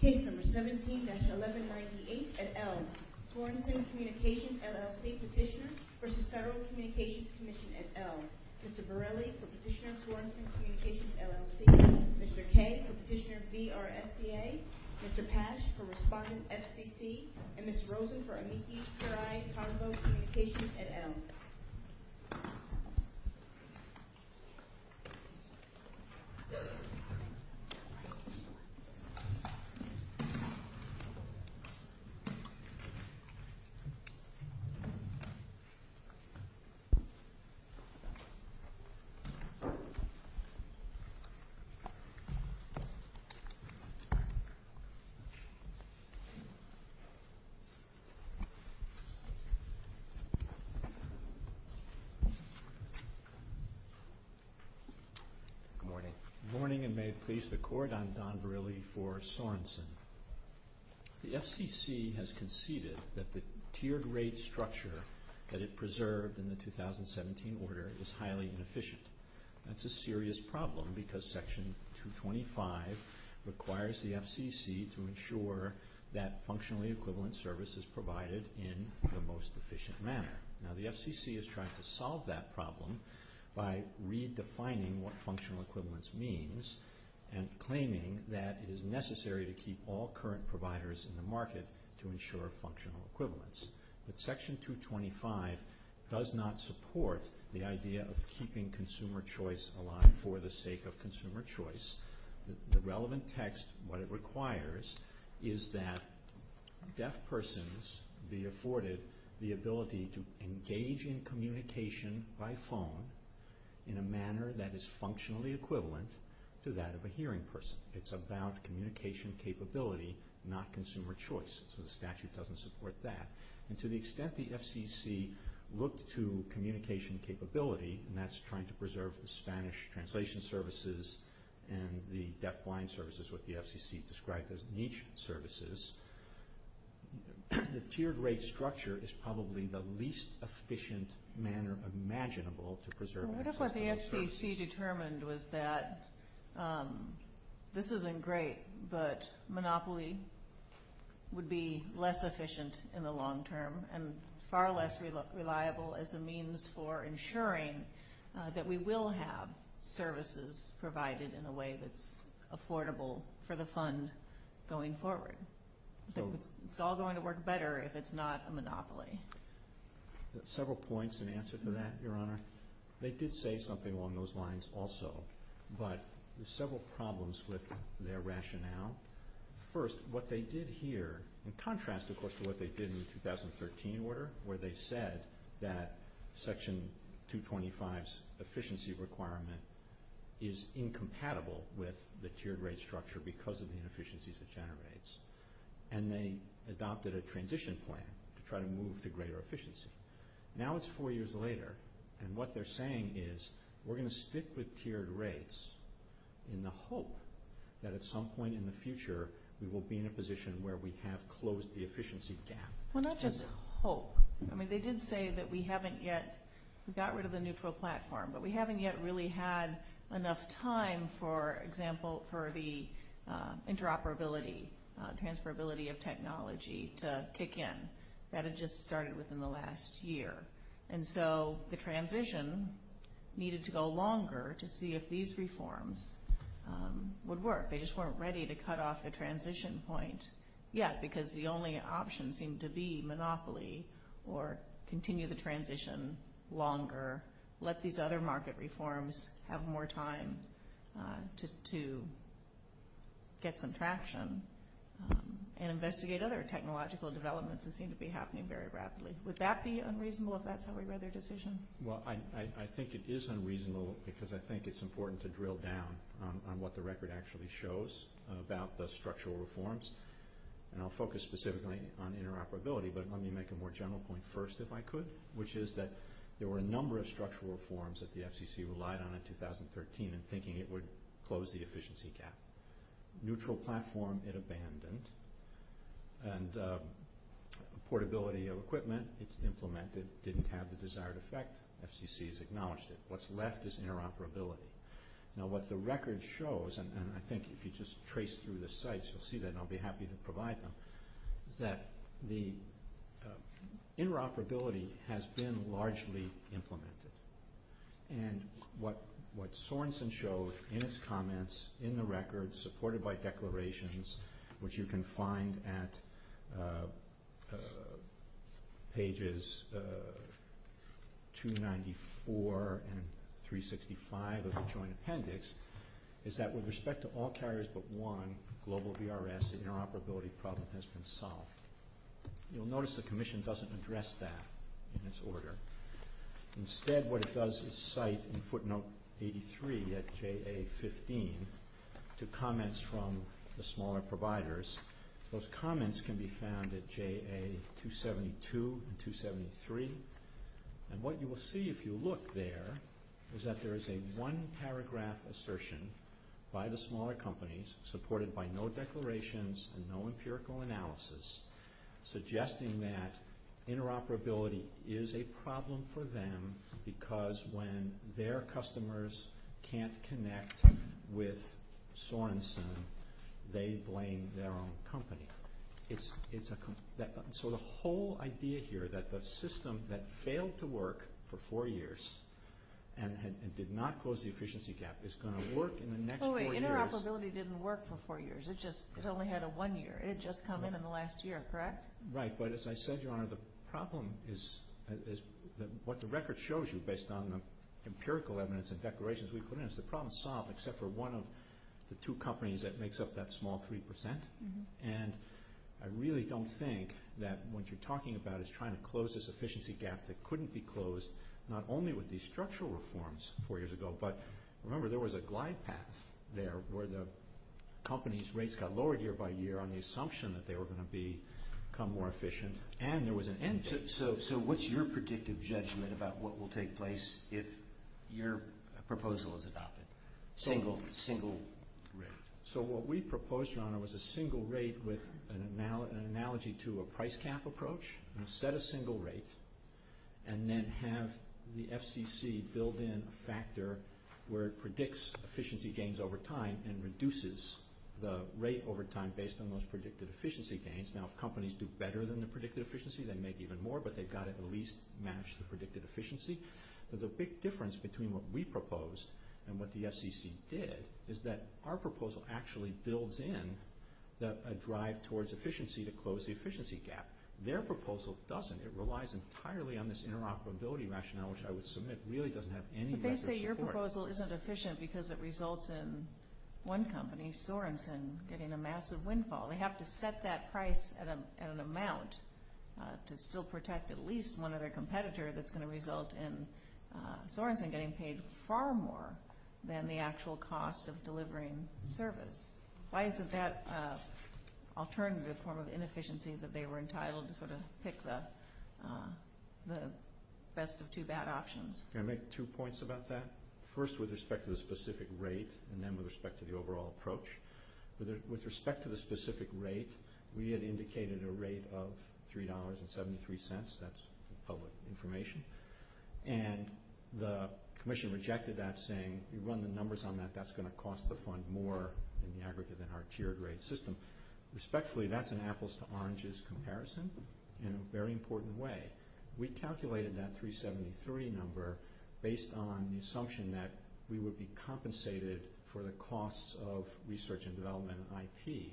Case No. 17-1198 at Elm Sorenson Communications, LLC petitioner v. Federal Communications Commission at Elm Mr. Borelli for Petitioner Sorenson Communications, LLC Mr. Kay for Petitioner VRSBA Mr. Pasch for Respondent FCC and Ms. Rosen for MAP-CRI-COMFO Communications at Elm Mr. Borelli for Petitioner VRSBA Good morning. Good morning and may it please the Court, I'm Don Borelli for Sorenson. The FCC has conceded that the tiered rate structure that it preserved in the 2017 order is highly inefficient. That's a serious problem because Section 225 requires the FCC to ensure that functionally equivalent service is provided in the most efficient manner. Now the FCC is trying to solve that problem by redefining what functional equivalence means and claiming that it is necessary to keep all current providers in the market to ensure functional equivalence. But Section 225 does not support the idea of keeping consumer choice alive for the sake of consumer choice. The relevant text, what it requires, is that deaf persons be afforded the ability to engage in communication by phone in a manner that is functionally equivalent to that of a hearing person. It's about communication capability, not consumer choice. So the statute doesn't support that. And to the extent the FCC looked to communication capability, and that's trying to preserve the Spanish translation services and the deaf-blind services, what the FCC described as niche services, the tiered rate structure is probably the least efficient manner imaginable to preserve accessibility services. What the FCC determined was that this isn't great, but monopoly would be less efficient in the long term and far less reliable as a means for ensuring that we will have services provided in a way that's affordable for the fund going forward. So it's all going to work better if it's not a monopoly. Several points in answer to that, Your Honor. They did say something along those lines also, but there's several problems with their rationale. First, what they did here, in contrast, of course, to what they did in the 2013 order, where they said that Section 225's efficiency requirement is incompatible with the tiered rate structure because of the inefficiencies it generates. And they adopted a transition plan to try to move to greater efficiency. Now it's four years later, and what they're saying is we're going to stick with tiered rates in the hope that at some point in the future we will be in a position where we have closed the efficiency gap. Well, not just hope. I mean, they did say that we haven't yet got rid of the neutral platform, but we haven't yet really had enough time, for example, for the interoperability, transferability of technology to kick in. That had just started within the last year. And so the transition needed to go longer to see if these reforms would work. They just weren't ready to cut off the transition point yet because the only option seemed to be monopoly or continue the transition longer, let these other market reforms have more time to get some traction, and investigate other technological developments that seem to be happening very rapidly. Would that be unreasonable if that's how we read their decision? Well, I think it is unreasonable because I think it's important to drill down on what the record actually shows about the structural reforms. And I'll focus specifically on interoperability, but let me make a more general point first if I could, which is that there were a number of structural reforms that the FCC relied on in 2013 in thinking it would close the efficiency gap. Neutral platform, it abandoned. And portability of equipment, it's implemented, didn't have the desired effect. FCC has acknowledged it. What's left is interoperability. Now, what the record shows, and I think if you just trace through the sites, you'll see that, and I'll be happy to provide them, that the interoperability has been largely implemented. And what Sorenson showed in his comments in the record, supported by declarations, which you can find at pages 294 and 365 of the Joint Appendix, is that with respect to all carriers but one, global VRS, the interoperability problem has been solved. You'll notice the Commission doesn't address that in its order. Instead, what it does is cite in footnote 83 at JA-15 to comments from the smaller providers. Those comments can be found at JA-272 and 273. And what you will see if you look there is that there is a one-paragraph assertion by the smaller companies, supported by no declarations and no empirical analysis, suggesting that interoperability is a problem for them because when their customers can't connect with Sorenson, they blame their own company. So the whole idea here that the system that failed to work for four years and did not close the efficiency gap is going to work in the next four years. Interoperability didn't work for four years. It only had a one year. It had just come in in the last year, correct? Right. But as I said, Your Honor, the problem is what the record shows you, based on the empirical evidence and declarations, the problem is solved except for one of the two companies that makes up that small 3%. And I really don't think that what you're talking about is trying to close this efficiency gap that couldn't be closed, not only with these structural reforms four years ago, but remember there was a glide path there where the company's rates got lower year by year on the assumption that they were going to become more efficient and there was an end to it. So what's your predictive judgment about what will take place if your proposal is adopted? Single rate. So what we proposed, Your Honor, was a single rate with an analogy to a price cap approach. We'll set a single rate and then have the FCC build in a factor where it predicts efficiency gains over time and reduces the rate over time based on those predicted efficiency gains. Now, if companies do better than the predicted efficiency, they make even more, but they've got to at least match the predicted efficiency. The big difference between what we proposed and what the FCC did is that our proposal actually builds in a drive towards efficiency to close the efficiency gap. Their proposal doesn't. It relies entirely on this interoperability rationale, which I would submit really doesn't have any record support. If they say your proposal isn't efficient because it results in one company, Sorenson, getting a massive windfall, they have to set that price at an amount to still protect at least one other competitor that's going to result in Sorenson getting paid far more than the actual cost of delivering service. Why is it that alternative form of inefficiency that they were entitled to sort of pick the best of two bad options? Can I make two points about that? First, with respect to the specific rate and then with respect to the overall approach. With respect to the specific rate, we had indicated a rate of $3.73. That's public information. And the commission rejected that, saying we run the numbers on that. That's going to cost the fund more in the aggregate than our tier grade system. Respectfully, that's an apples to oranges comparison in a very important way. We calculated that $3.73 number based on the assumption that we would be compensated for the costs of research and development and IT.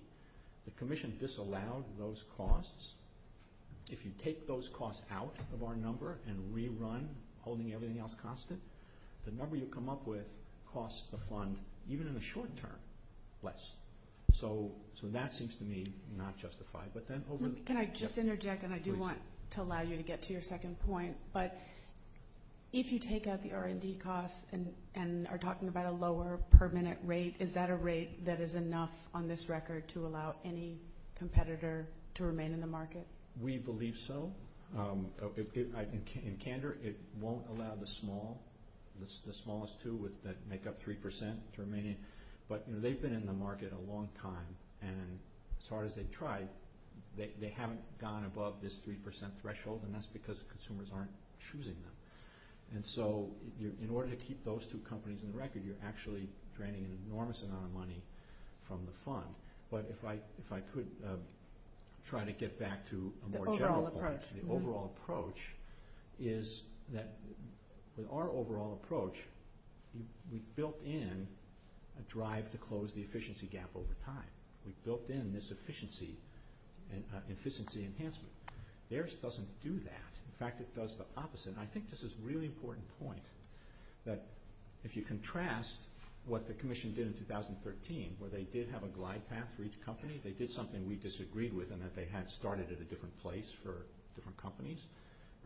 The commission disallowed those costs. If you take those costs out of our number and rerun, holding everything else constant, the number you come up with costs the fund, even in the short term, less. So that seems to me not justified. Can I just interject, and I do want to allow you to get to your second point, but if you take out the R&D costs and are talking about a lower permanent rate, is that a rate that is enough on this record to allow any competitor to remain in the market? We believe so. In candor, it won't allow the small, the smallest two that make up 3% to remain. But they've been in the market a long time, and as hard as they've tried, they haven't gone above this 3% threshold, and that's because consumers aren't choosing them. And so in order to keep those two companies in the record, you're actually draining an enormous amount of money from the fund. But if I could try to get back to a more general point, is that with our overall approach, we've built in a drive to close the efficiency gap over time. We've built in this efficiency enhancement. Theirs doesn't do that. In fact, it does the opposite, and I think this is a really important point, that if you contrast what the Commission did in 2013, where they did have a glide path for each company, they did something we disagreed with, in that they had started at a different place for different companies,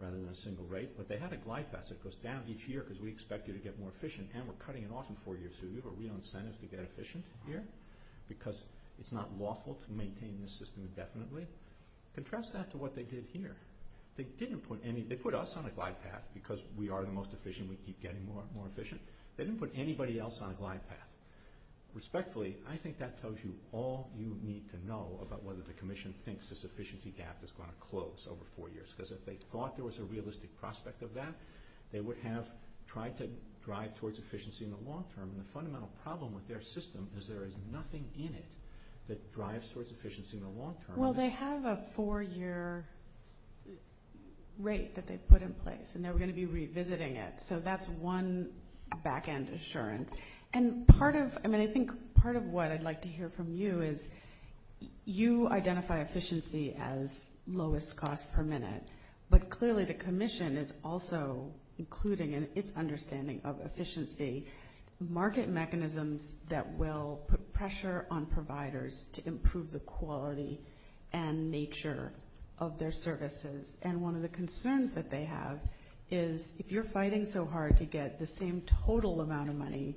rather than a single rate. But they had a glide path that goes down each year, because we expect you to get more efficient, and we're cutting it off in four years, so we have a real incentive to get efficient here, because it's not lawful to maintain the system indefinitely. Contrast that to what they did here. They put us on a glide path, because we are the most efficient, we keep getting more and more efficient. They didn't put anybody else on a glide path. Respectfully, I think that tells you all you need to know about whether the Commission thinks this efficiency gap is going to close over four years, because if they thought there was a realistic prospect of that, they would have tried to drive towards efficiency in the long term. And the fundamental problem with their system is there is nothing in it that drives towards efficiency in the long term. Well, they have a four-year rate that they've put in place, and they're going to be revisiting it. So that's one back-end assurance. And part of what I'd like to hear from you is you identify efficiency as lowest cost per minute, but clearly the Commission is also including in its understanding of efficiency market mechanisms that will put pressure on providers to improve the quality and nature of their services. And one of the concerns that they have is if you're fighting so hard to get the same total amount of money,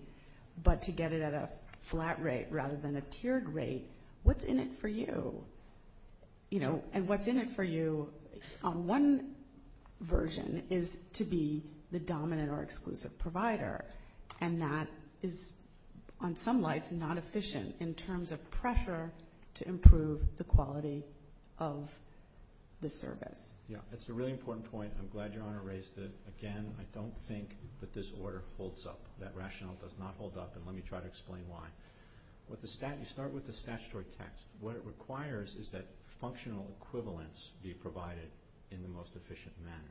but to get it at a flat rate rather than a tiered rate, what's in it for you? And what's in it for you on one version is to be the dominant or exclusive provider, and that is, on some lights, not efficient in terms of pressure to improve the quality of the service. Yeah, that's a really important point, and I'm glad your Honor raised it. Again, I don't think that this order holds up. That rationale does not hold up, and let me try to explain why. You start with the statutory text. What it requires is that functional equivalents be provided in the most efficient manner.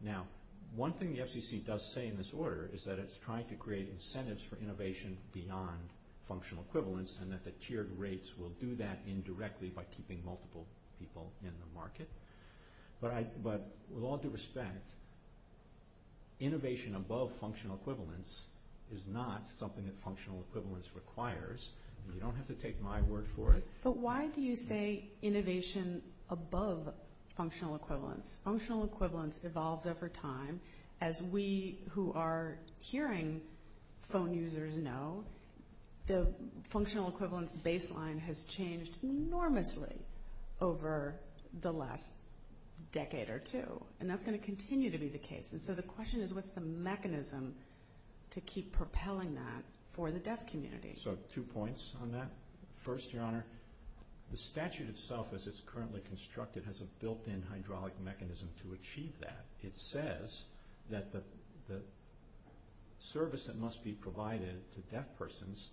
Now, one thing the FCC does say in this order is that it's trying to create incentives for innovation beyond functional equivalents and that the tiered rates will do that indirectly by keeping multiple people in the market. But with all due respect, innovation above functional equivalents is not something that functional equivalents requires. You don't have to take my word for it. But why do you say innovation above functional equivalents? Functional equivalents evolved over time. As we who are hearing phone users know, the functional equivalents baseline has changed enormously over the last decade or two, and that's going to continue to be the case. And so the question is what's the mechanism to keep propelling that for the deaf community? So two points on that. First, Your Honor, the statute itself as it's currently constructed has a built-in hydraulic mechanism to achieve that. It says that the service that must be provided to deaf persons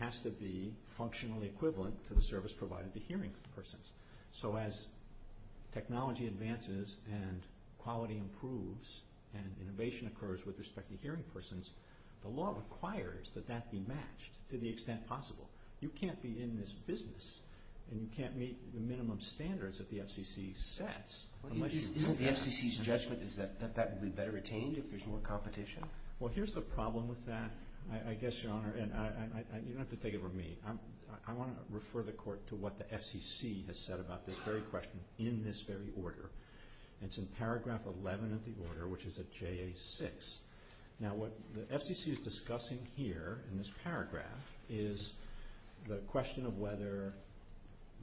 has to be functionally equivalent to the service provided to hearing persons. So as technology advances and quality improves and innovation occurs with respect to hearing persons, the law requires that that be matched to the extent possible. You can't be in this business and you can't meet the minimum standards that the FCC says. The FCC's judgment is that that would be better attained if there's more competition? Well, here's the problem with that, I guess, Your Honor, and you don't have to take it from me. I want to refer the Court to what the FCC has said about this very question in this very order. It's in paragraph 11 of the order, which is at JA6. Now what the FCC is discussing here in this paragraph is the question of whether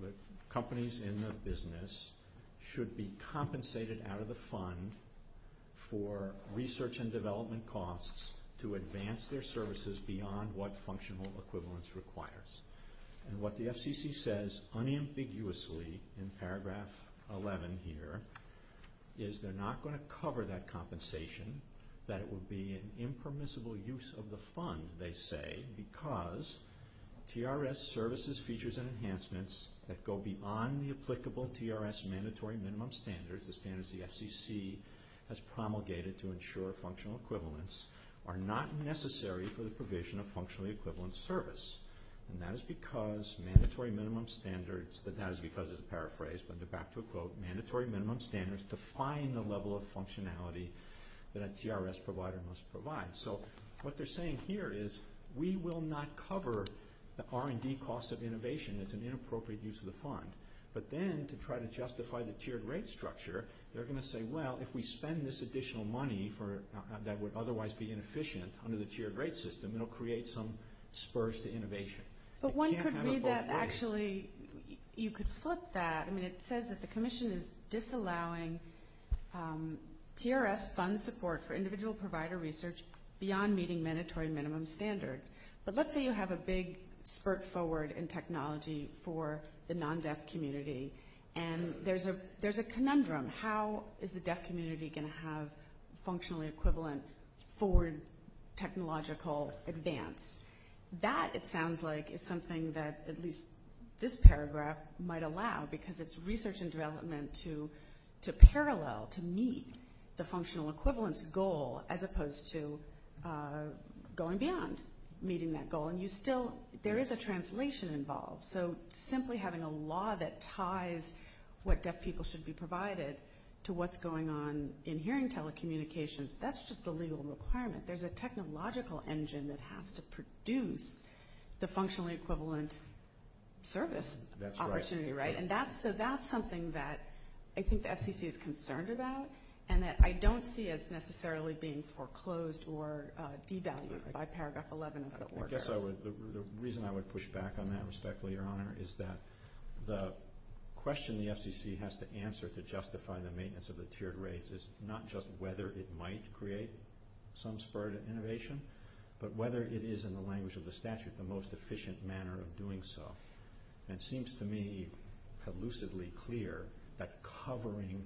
the companies in the business should be compensated out of the fund for research and development costs to advance their services beyond what functional equivalence requires. And what the FCC says unambiguously in paragraph 11 here is they're not going to cover that compensation, that it would be an impermissible use of the fund, they say, because TRS services, features, and enhancements that go beyond the applicable TRS mandatory minimum standards, the standards the FCC has promulgated to ensure functional equivalence, are not necessary for the provision of functionally equivalent service. And that is because mandatory minimum standards, that is because is a paraphrase, but they're back to a quote, mandatory minimum standards define the level of functionality that a TRS provider must provide. So what they're saying here is we will not cover the R&D costs of innovation. It's an inappropriate use of the fund. But then to try to justify the tiered rate structure, they're going to say, well, if we spend this additional money that would otherwise be inefficient under the tiered rate system, it will create some spurs to innovation. But one could read that actually you could flip that. I mean, it says that the commission is disallowing TRS fund support for individual provider research beyond meeting mandatory minimum standards. But let's say you have a big spurt forward in technology for the non-deaf community, and there's a conundrum. How is the deaf community going to have functionally equivalent forward technological advance? That, it sounds like, is something that at least this paragraph might allow, because it's research and development to parallel, to meet the functional equivalence goal, as opposed to going beyond meeting that goal. And you still, there is a translation involved. So simply having a law that ties what deaf people should be provided to what's going on in hearing telecommunications, that's just a legal requirement. There's a technological engine that has to produce the functional equivalence service opportunity, right? And that's something that I think the FCC is concerned about, and that I don't see as necessarily being foreclosed or devalued by paragraph 11. I guess the reason I would push back on that respectfully, Your Honor, is that the question the FCC has to answer to justify the maintenance of the tiered rates is not just whether it might create some spur to innovation, but whether it is, in the language of the statute, the most efficient manner of doing so. And it seems to me elusively clear that covering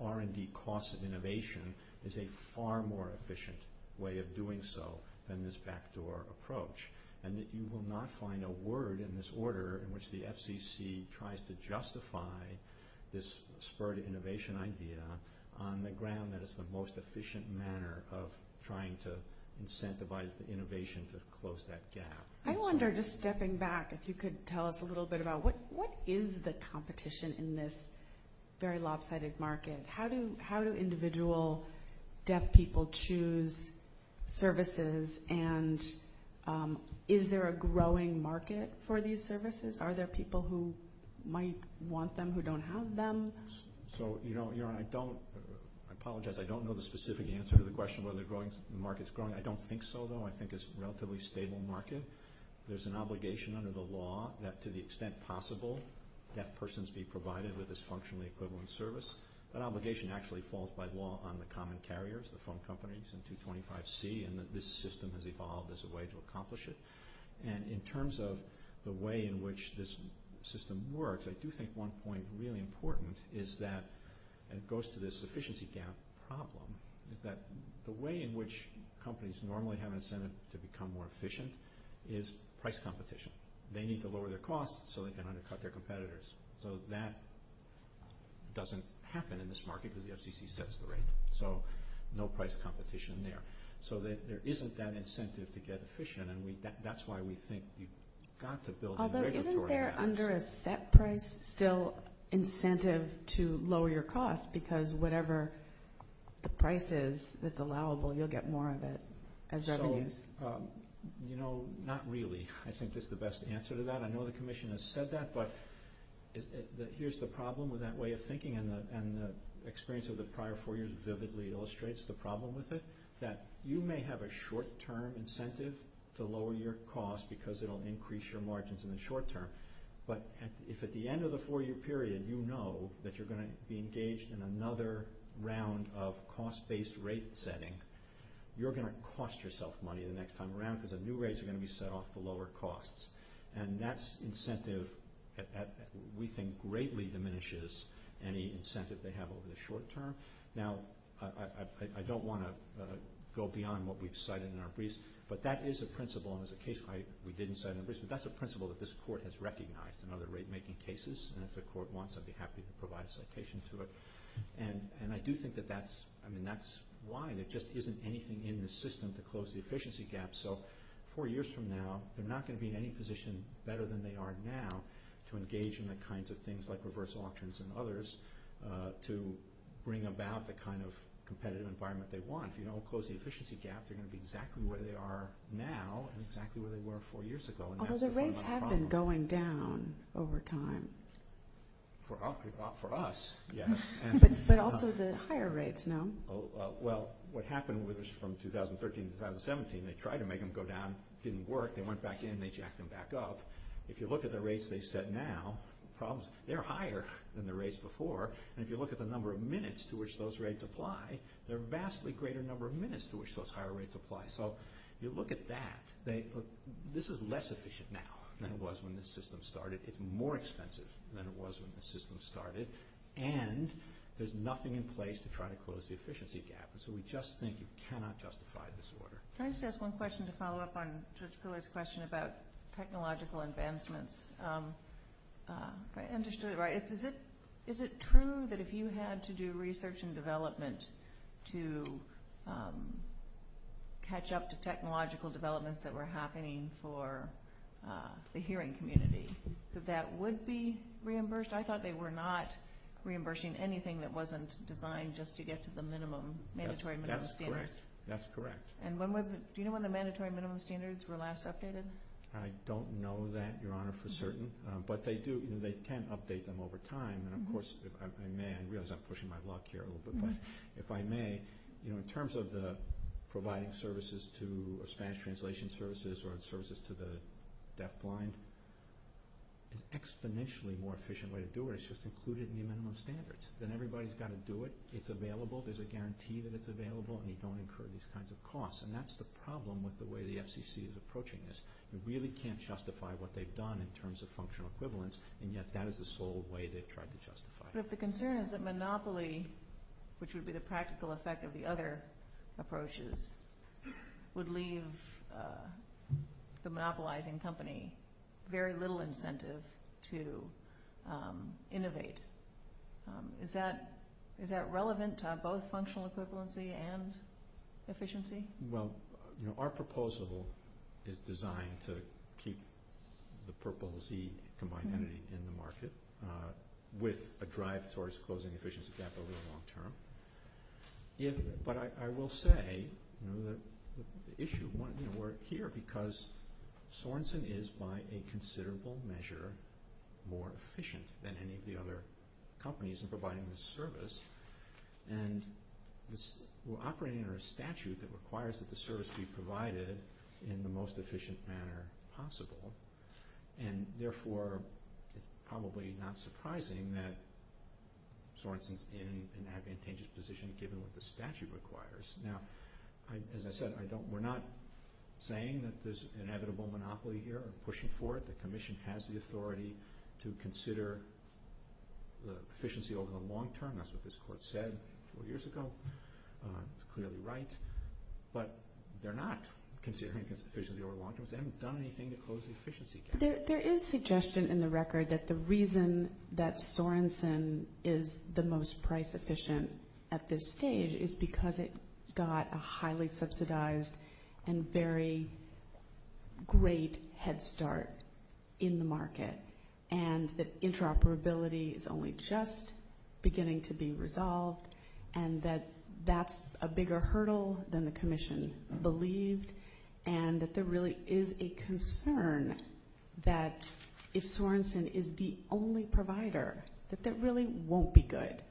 R&D costs of innovation is a far more efficient way of doing so than this backdoor approach, and that you will not find a word in this order in which the FCC tries to justify this spur to innovation idea on the ground that it's the most efficient manner of trying to incentivize innovation to close that gap. I wonder, just stepping back, if you could tell us a little bit about what is the competition in this very lopsided market? How do individual deaf people choose services, and is there a growing market for these services? Are there people who might want them who don't have them? So, Your Honor, I apologize. I don't know the specific answer to the question whether the market's growing. I don't think so, though. I think it's a relatively stable market. There's an obligation under the law that, to the extent possible, that persons be provided with this functionally equivalent service. That obligation actually falls by law on the common carriers, the phone companies and 225C, and that this system has evolved as a way to accomplish it. And in terms of the way in which this system works, I do think one point is really important is that it goes to this efficiency gap problem, that the way in which companies normally have incentive to become more efficient is price competition. They need to lower their costs so they can undercut their competitors. So that doesn't happen in this market where the FCC sets the rate. So no price competition there. So there isn't that incentive to get efficient, and that's why we think we've got to build a regulatory mechanism. Although, isn't there, under a set price, still incentive to lower your costs, because whatever the price is that's allowable, you'll get more of it as revenues? So, you know, not really, I think, is the best answer to that. I know the Commission has said that, but here's the problem with that way of thinking, and the experience of the prior four years vividly illustrates the problem with it, that you may have a short-term incentive to lower your cost because it'll increase your margins in the short term, but if at the end of the four-year period you know that you're going to be engaged in another round of cost-based rate setting, you're going to cost yourself money the next time around because the new rates are going to be set off for lower costs, and that's incentive that we think greatly diminishes any incentive they have over the short term. Now, I don't want to go beyond what we've cited in our briefs, but that is a principle, and there's a case we didn't cite in our briefs, but that's a principle that this Court has recognized in other rate-making cases, and if the Court wants, I'd be happy to provide a citation to it. And I do think that that's why, and it just isn't anything in the system to close the efficiency gap. So four years from now, they're not going to be in any position better than they are now to engage in the kinds of things like reversal options and others to bring about the kind of competitive environment they want. If you don't close the efficiency gap, they're going to be exactly where they are now and exactly where they were four years ago. Although the rates have been going down over time. For us, yes. But also the higher rates, no? Well, what happened was from 2013 to 2017, they tried to make them go down. It didn't work. They went back in, and they jacked them back up. If you look at the rates they set now, they're higher than the rates before, and if you look at the number of minutes to which those rates apply, they're a vastly greater number of minutes to which those higher rates apply. So you look at that. This is less efficient now than it was when the system started. It's more expensive than it was when the system started, and there's nothing in place to try to close the efficiency gap, and so we just think you cannot justify this order. Can I just ask one question to follow up on George Fuller's question about technological advancement? And just to the right. Is it true that if you had to do research and development to catch up to technological developments that were happening for the hearing community, that that would be reimbursed? I thought they were not reimbursing anything that wasn't defined just to get to the mandatory minimum standards. That's correct. Do you know when the mandatory minimum standards were last updated? I don't know that, Your Honor, for certain, but they can update them over time. And, of course, if I may, I realize I'm pushing my luck here a little bit, but if I may, in terms of providing services to Spanish translation services or services to the deafblind, an exponentially more efficient way to do it is just include it in the minimum standards. Then everybody's got to do it. It's available. There's a guarantee that it's available, and you don't incur these kinds of costs, and that's the problem with the way the FCC is approaching this. They really can't justify what they've done in terms of functional equivalence, and yet that is the sole way they've tried to justify it. But the concern is that monopoly, which would be the practical effect of the other approaches, would leave the monopolizing company very little incentive to innovate. Is that relevant to both functional equivalency and efficiency? Well, our proposal is designed to keep the purple Z commodity in the market with a drive towards closing the efficiency gap over the long term. But I will say the issue of wanting to work here is because Sorenson is, by a considerable measure, more efficient than any of the other companies in providing this service, and we're operating under a statute that requires that the service be provided in the most efficient manner possible, and therefore it's probably not surprising that Sorenson's in an advantageous position given what the statute requires. Now, as I said, we're not saying that there's inevitable monopoly here. I'm pushing for it. The Commission has the authority to consider the efficiency over the long term. That's what this Court said four years ago. Clearly right. But they're not considering efficiency over the long term. They haven't done anything to close the efficiency gap. There is suggestion in the record that the reason that Sorenson is the most price efficient at this stage is because it got a highly subsidized and very great head start in the market, and that interoperability is only just beginning to be resolved and that that's a bigger hurdle than the Commission believes and that there really is a concern that if Sorenson is the only provider, that that really won't be good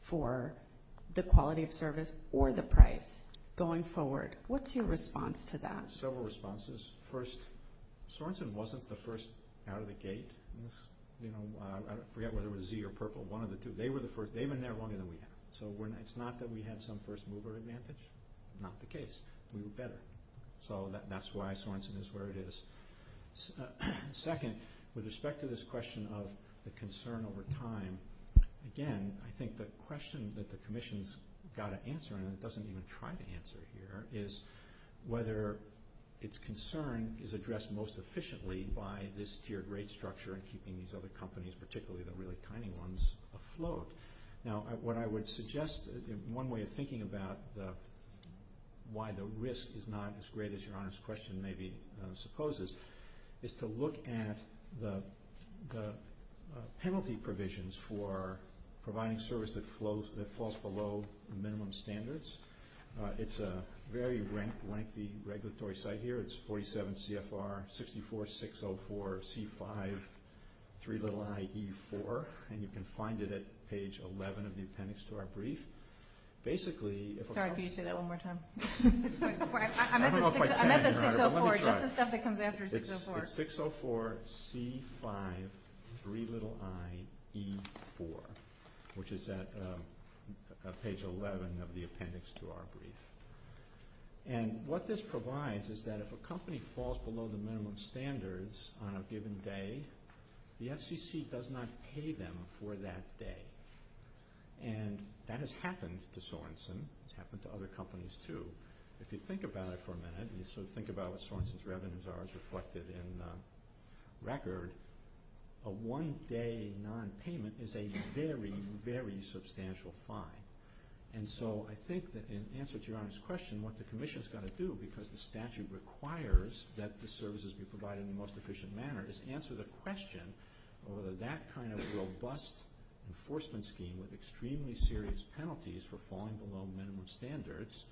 for the quality of service or the price going forward. What's your response to that? Several responses. First, Sorenson wasn't the first out of the gate. I forget whether it was Z or Purple, one of the two. They were the first. They've been there longer than we have. So it's not that we have some first mover advantage. Not the case. We were better. So that's why Sorenson is where it is. Second, with respect to this question of the concern over time, again, I think the question that the Commission's got to answer, and it doesn't even try to answer here, is whether its concern is addressed most efficiently by this tiered rate structure and keeping these other companies, particularly the really tiny ones, afloat. Now, what I would suggest, one way of thinking about why the risk is not as great as your honest question maybe supposes, is to look at the penalty provisions for providing service that falls below minimum standards. It's a very lengthy regulatory site here. It's 47 CFR 64604C53iE4, and you can find it at page 11 of the appendix to our brief. Basically, if a company- Sorry, can you say that one more time? I don't know if I can, but let me try. I meant the 604, just the stuff that comes after 604. It's 604C53iE4, which is at page 11 of the appendix to our brief. And what this provides is that if a company falls below the minimum standards on a given day, the FCC does not pay them for that day. And that has happened to Sorenson. It's happened to other companies, too. If you think about it for a minute, and sort of think about what Sorenson's revenues are as reflected in the record, a one-day non-payment is a very, very substantial fine. And so I think that in answer to your honest question, what the commission is going to do, because the statute requires that the services be provided in the most efficient manner, is answer the question of whether that kind of robust enforcement scheme with extremely serious penalties for falling below minimum standards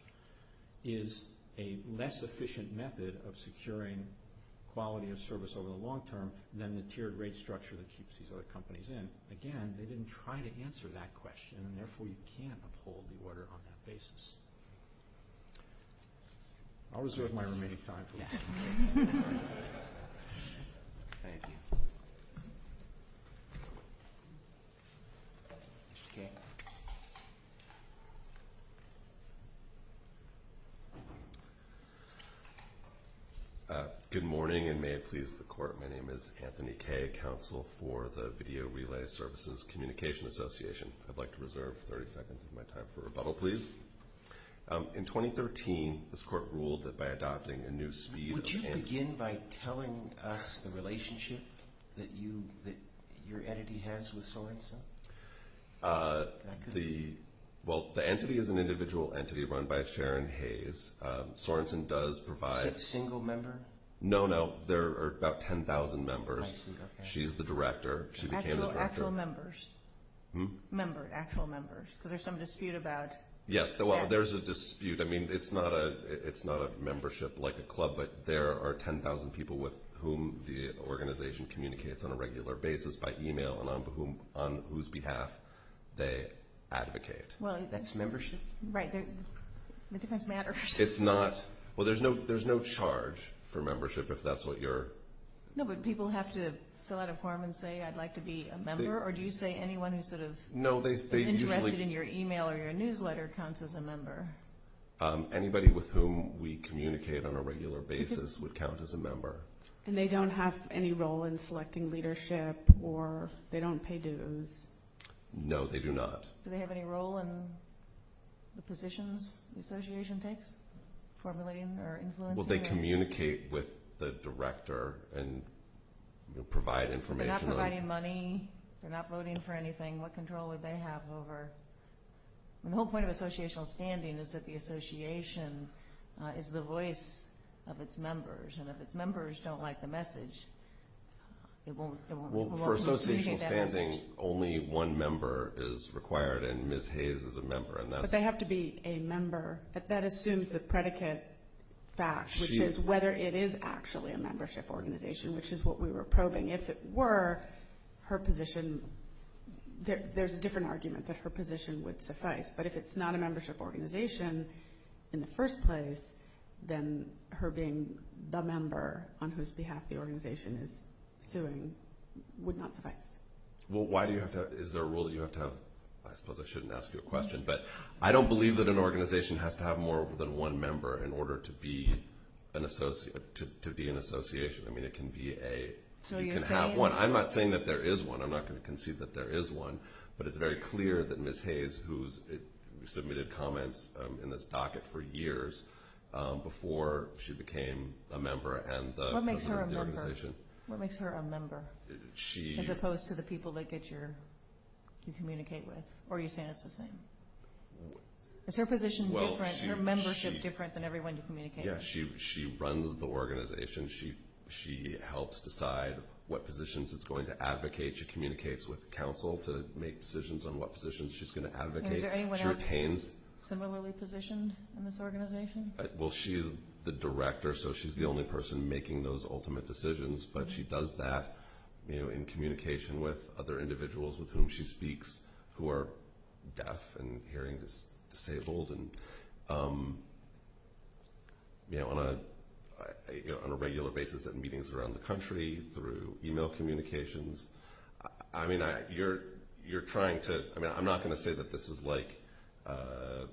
is a less efficient method of securing quality of service over the long term than the tiered rate structure that keeps these other companies in. Again, they didn't try to answer that question, and therefore you can't uphold the order on that basis. I'll reserve my remaining time for that. Good morning, and may it please the Court, my name is Anthony Kaye, Counsel for the Video Relay Services Communication Association. I'd like to reserve 30 seconds of my time for rebuttal, please. In 2013, this Court ruled that by adopting a new speed... Would you begin by telling us the relationship that your entity has with Sorenson? Well, the entity is an individual entity run by Sharon Hayes. Sorenson does provide... Is it a single member? No, no, there are about 10,000 members. I see, okay. She's the director. Actual members. Hmm? Actual members, because there's some dispute about... Yes, well, there's a dispute. I mean, it's not a membership like a club, but there are 10,000 people with whom the organization communicates on a regular basis by email and on whose behalf they advocate. Well, that's membership... Right, the difference matters. It's not... Well, there's no charge for membership, if that's what you're... No, but people have to fill out a form and say, I'd like to be a member, or do you say anyone who sort of... Who counts as a member? Anybody with whom we communicate on a regular basis would count as a member. And they don't have any role in selecting leadership, or they don't pay dues? No, they do not. Do they have any role in the positions the association takes? Formulating or influencing? Well, they communicate with the director and provide information... They're not providing money. They're not voting for anything. What control do they have over... The whole point of associational standing is that the association is the voice of its members, and if its members don't like the message, it won't... Well, for associational standing, only one member is required, and Ms. Hayes is a member, and that's... But they have to be a member, but that assumes the predicate fact, which is whether it is actually a membership organization, which is what we were probing. If it were, her position... There's a different argument that her position would suffice, but if it's not a membership organization in the first place, then her being the member on whose behalf the organization is suing would not suffice. Well, why do you have to... Is there a rule that you have to have... I suppose I shouldn't ask you a question, but I don't believe that an organization has to have more than one member in order to be an association. I mean, it can be a... So you're saying... You can have one. I'm not saying that there is one. I'm not going to concede that there is one, but it's very clear that Ms. Hayes, who's submitted comments in this docket for years before she became a member and a member of the organization... What makes her a member? What makes her a member? She... As opposed to the people that you communicate with, or are you saying it's the same? Is her position different, her membership different than everyone you communicate with? Yes, she runs the organization. She helps decide what positions it's going to advocate. She communicates with counsel to make decisions on what positions she's going to advocate. Is there anyone else similarly positioned in this organization? Well, she's the director, so she's the only person making those ultimate decisions, but she does that in communication with other individuals with whom she speaks who are deaf and hearing disabled. On a regular basis at meetings around the country, through e-mail communications, you're trying to... I'm not going to say that this is like the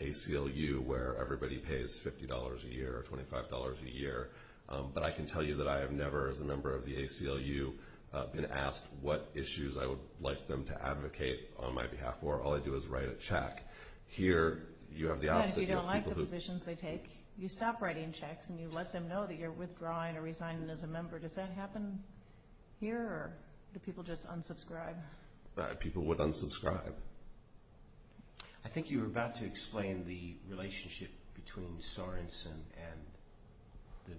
ACLU where everybody pays $50 a year or $25 a year, but I can tell you that I have never, as a member of the ACLU, been asked what issues I would like them to advocate on my behalf for. All I do is write a check. You don't like the positions they take. You stop writing checks and you let them know that you're withdrawing or resigning as a member. Does that happen here, or do people just unsubscribe? People would unsubscribe. I think you were about to explain the relationship between Sorenson and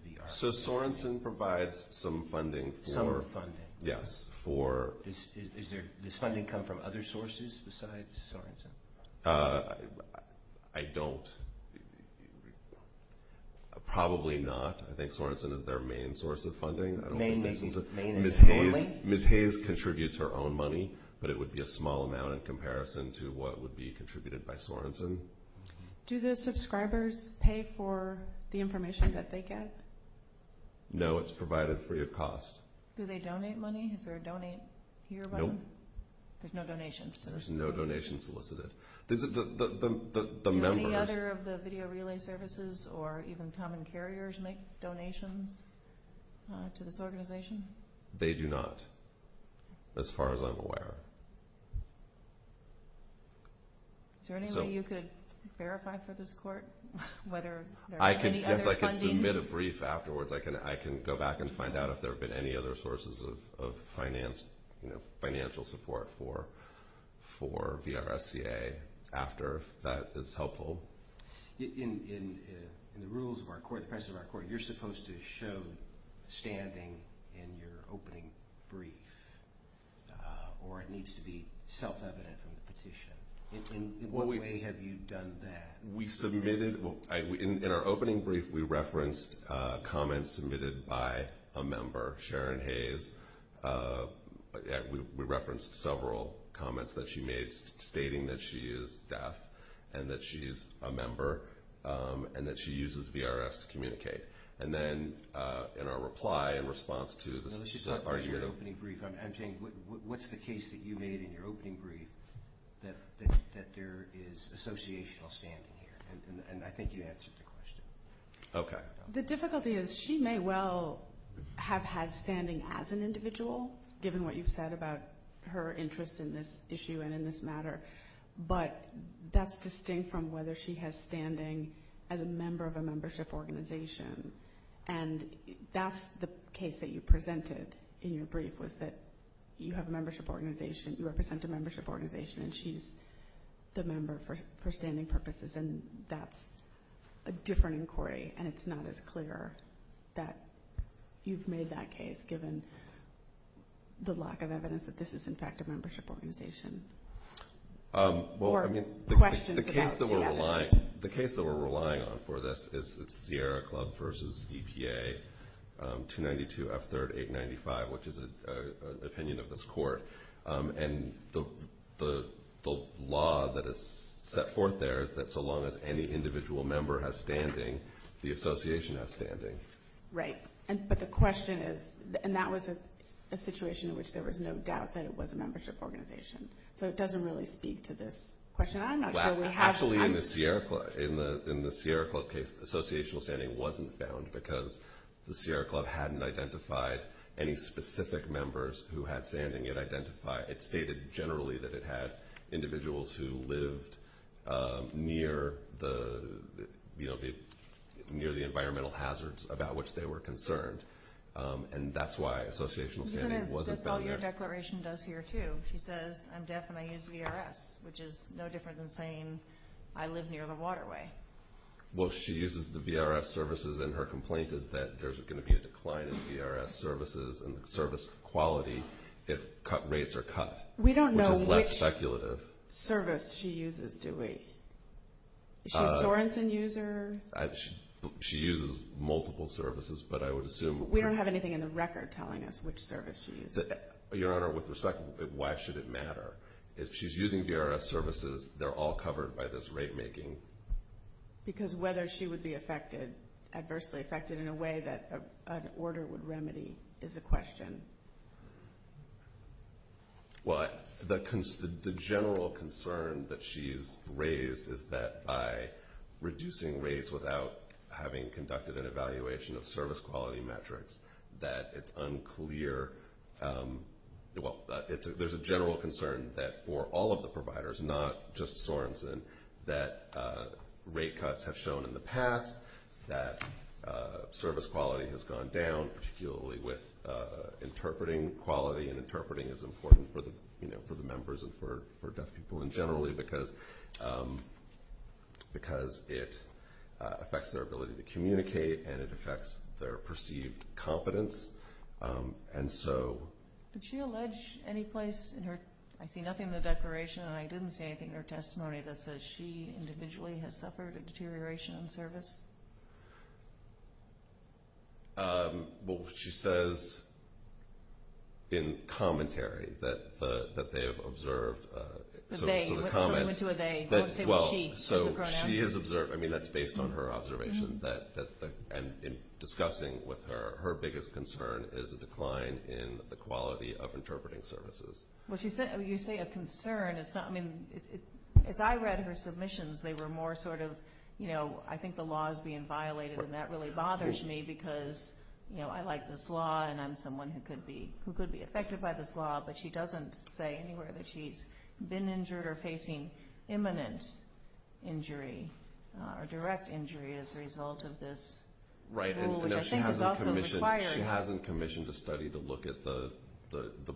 the VRS. So, Sorenson provides some funding for... Summer funding. Yes, for... Does this funding come from other sources besides Sorenson? I don't. Probably not. I think Sorenson is their main source of funding. Main and only? Ms. Hayes contributes her own money, but it would be a small amount in comparison to what would be contributed by Sorenson. Do the subscribers pay for the information that they get? No, it's provided free of cost. Do they donate money? Is there a donate here button? No. There's no donation? There's no donation solicited. The members... Does any other of the video relay services or even common carriers make donations to this organization? They do not, as far as I'm aware. Is there any way you could verify for this court whether there's any other funding? If I can submit a brief afterwards, I can go back and find out if there have been any other sources of financial support for VRSCA after, if that is helpful. In the rules of our court, the precedent of our court, you're supposed to show standing in your opening brief, or it needs to be self-evident in the petition. In what way have you done that? We submitted... In our opening brief, we referenced comments submitted by a member, Sharon Hayes. We referenced several comments that she made stating that she is deaf and that she's a member and that she uses VRS to communicate. And then in our reply and response to this, she said, I'm saying, what's the case that you made in your opening brief that there is associational standing here? And I think you answered the question. Okay. The difficulty is she may well have had standing as an individual, given what you've said about her interest in this issue and in this matter, but that's distinct from whether she has standing as a member of a membership organization. And that's the case that you presented in your brief, was that you have a membership organization, you represent a membership organization, and she's the member for standing purposes. And that's a different inquiry, and it's not as clear that you've made that case, given the lack of evidence that this is, in fact, a membership organization. The case that we're relying on for this is Sierra Club v. EPA, 292 F. 3rd 895, which is an opinion of this court. And the law that is set forth there is that so long as any individual member has standing, the association has standing. Right. But the question is, and that was a situation in which there was no doubt that it was a membership organization. So it doesn't really speak to this question. I'm not sure. Actually, in the Sierra Club case, associational standing wasn't found because the Sierra Club hadn't identified any specific members who had standing. It stated generally that it had individuals who lived near the environmental hazards about which they were concerned. And that's why associational standing wasn't found there. That's all your declaration does here, too. She says, I'm deaf and I use VRS, which is no different than saying I live near the waterway. Well, she uses the VRS services, and her complaint is that there's going to be a decline in VRS services and service quality if rates are cut. We don't know which service she uses, do we? Is she a Sorensen user? She uses multiple services, but I would assume— We don't have anything in the record telling us which service she uses. Your Honor, with respect, why should it matter? If she's using VRS services, they're all covered by this rate making. Because whether she would be adversely affected in a way that an order would remedy is a question. Well, the general concern that she's raised is that by reducing rates without having conducted an evaluation of service quality metrics, that it's unclear—well, there's a general concern that for all of the providers, not just Sorensen, that rate cuts have shown in the past that service quality has gone down, particularly with interpreting quality. Interpreting is important for the members and for deaf people in general because it affects their ability to communicate, and it affects their perceived confidence. Did she allege any place in her— I see nothing in the declaration, and I didn't see anything in her testimony that says she individually has suffered a deterioration in service. Well, she says in commentary that they have observed. So the comment— What do you mean, who are they? Well, so she has observed—I mean, that's based on her observation. And in discussing with her, her biggest concern is a decline in the quality of interpreting services. Well, you say a concern. If I read her submissions, they were more sort of, you know, I think the law is being violated, and that really bothers me because, you know, I like this law and I'm someone who could be affected by this law, but she doesn't say anywhere that she's been injured or facing imminent injury or direct injury as a result of this. Right, and she hasn't commissioned a study to look at the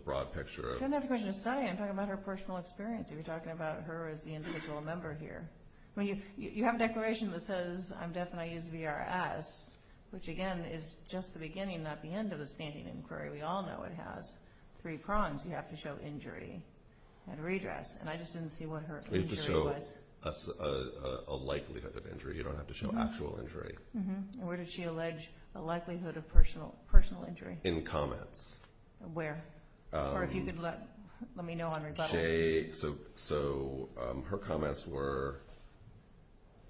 broad picture. She doesn't have a commission to study. I'm talking about her personal experience. You're talking about her as the individual member here. I mean, you have a declaration that says, I'm deaf and I use VRS, which, again, is just the beginning, not the end, of a standing inquiry. We all know it has three prongs. You have to show injury and redress. And I just didn't see what her injury was. You have to show a likelihood of injury. You don't have to show actual injury. And where did she allege a likelihood of personal injury? In comments. Where? Or if you could let me know on rebuttal. So her comments were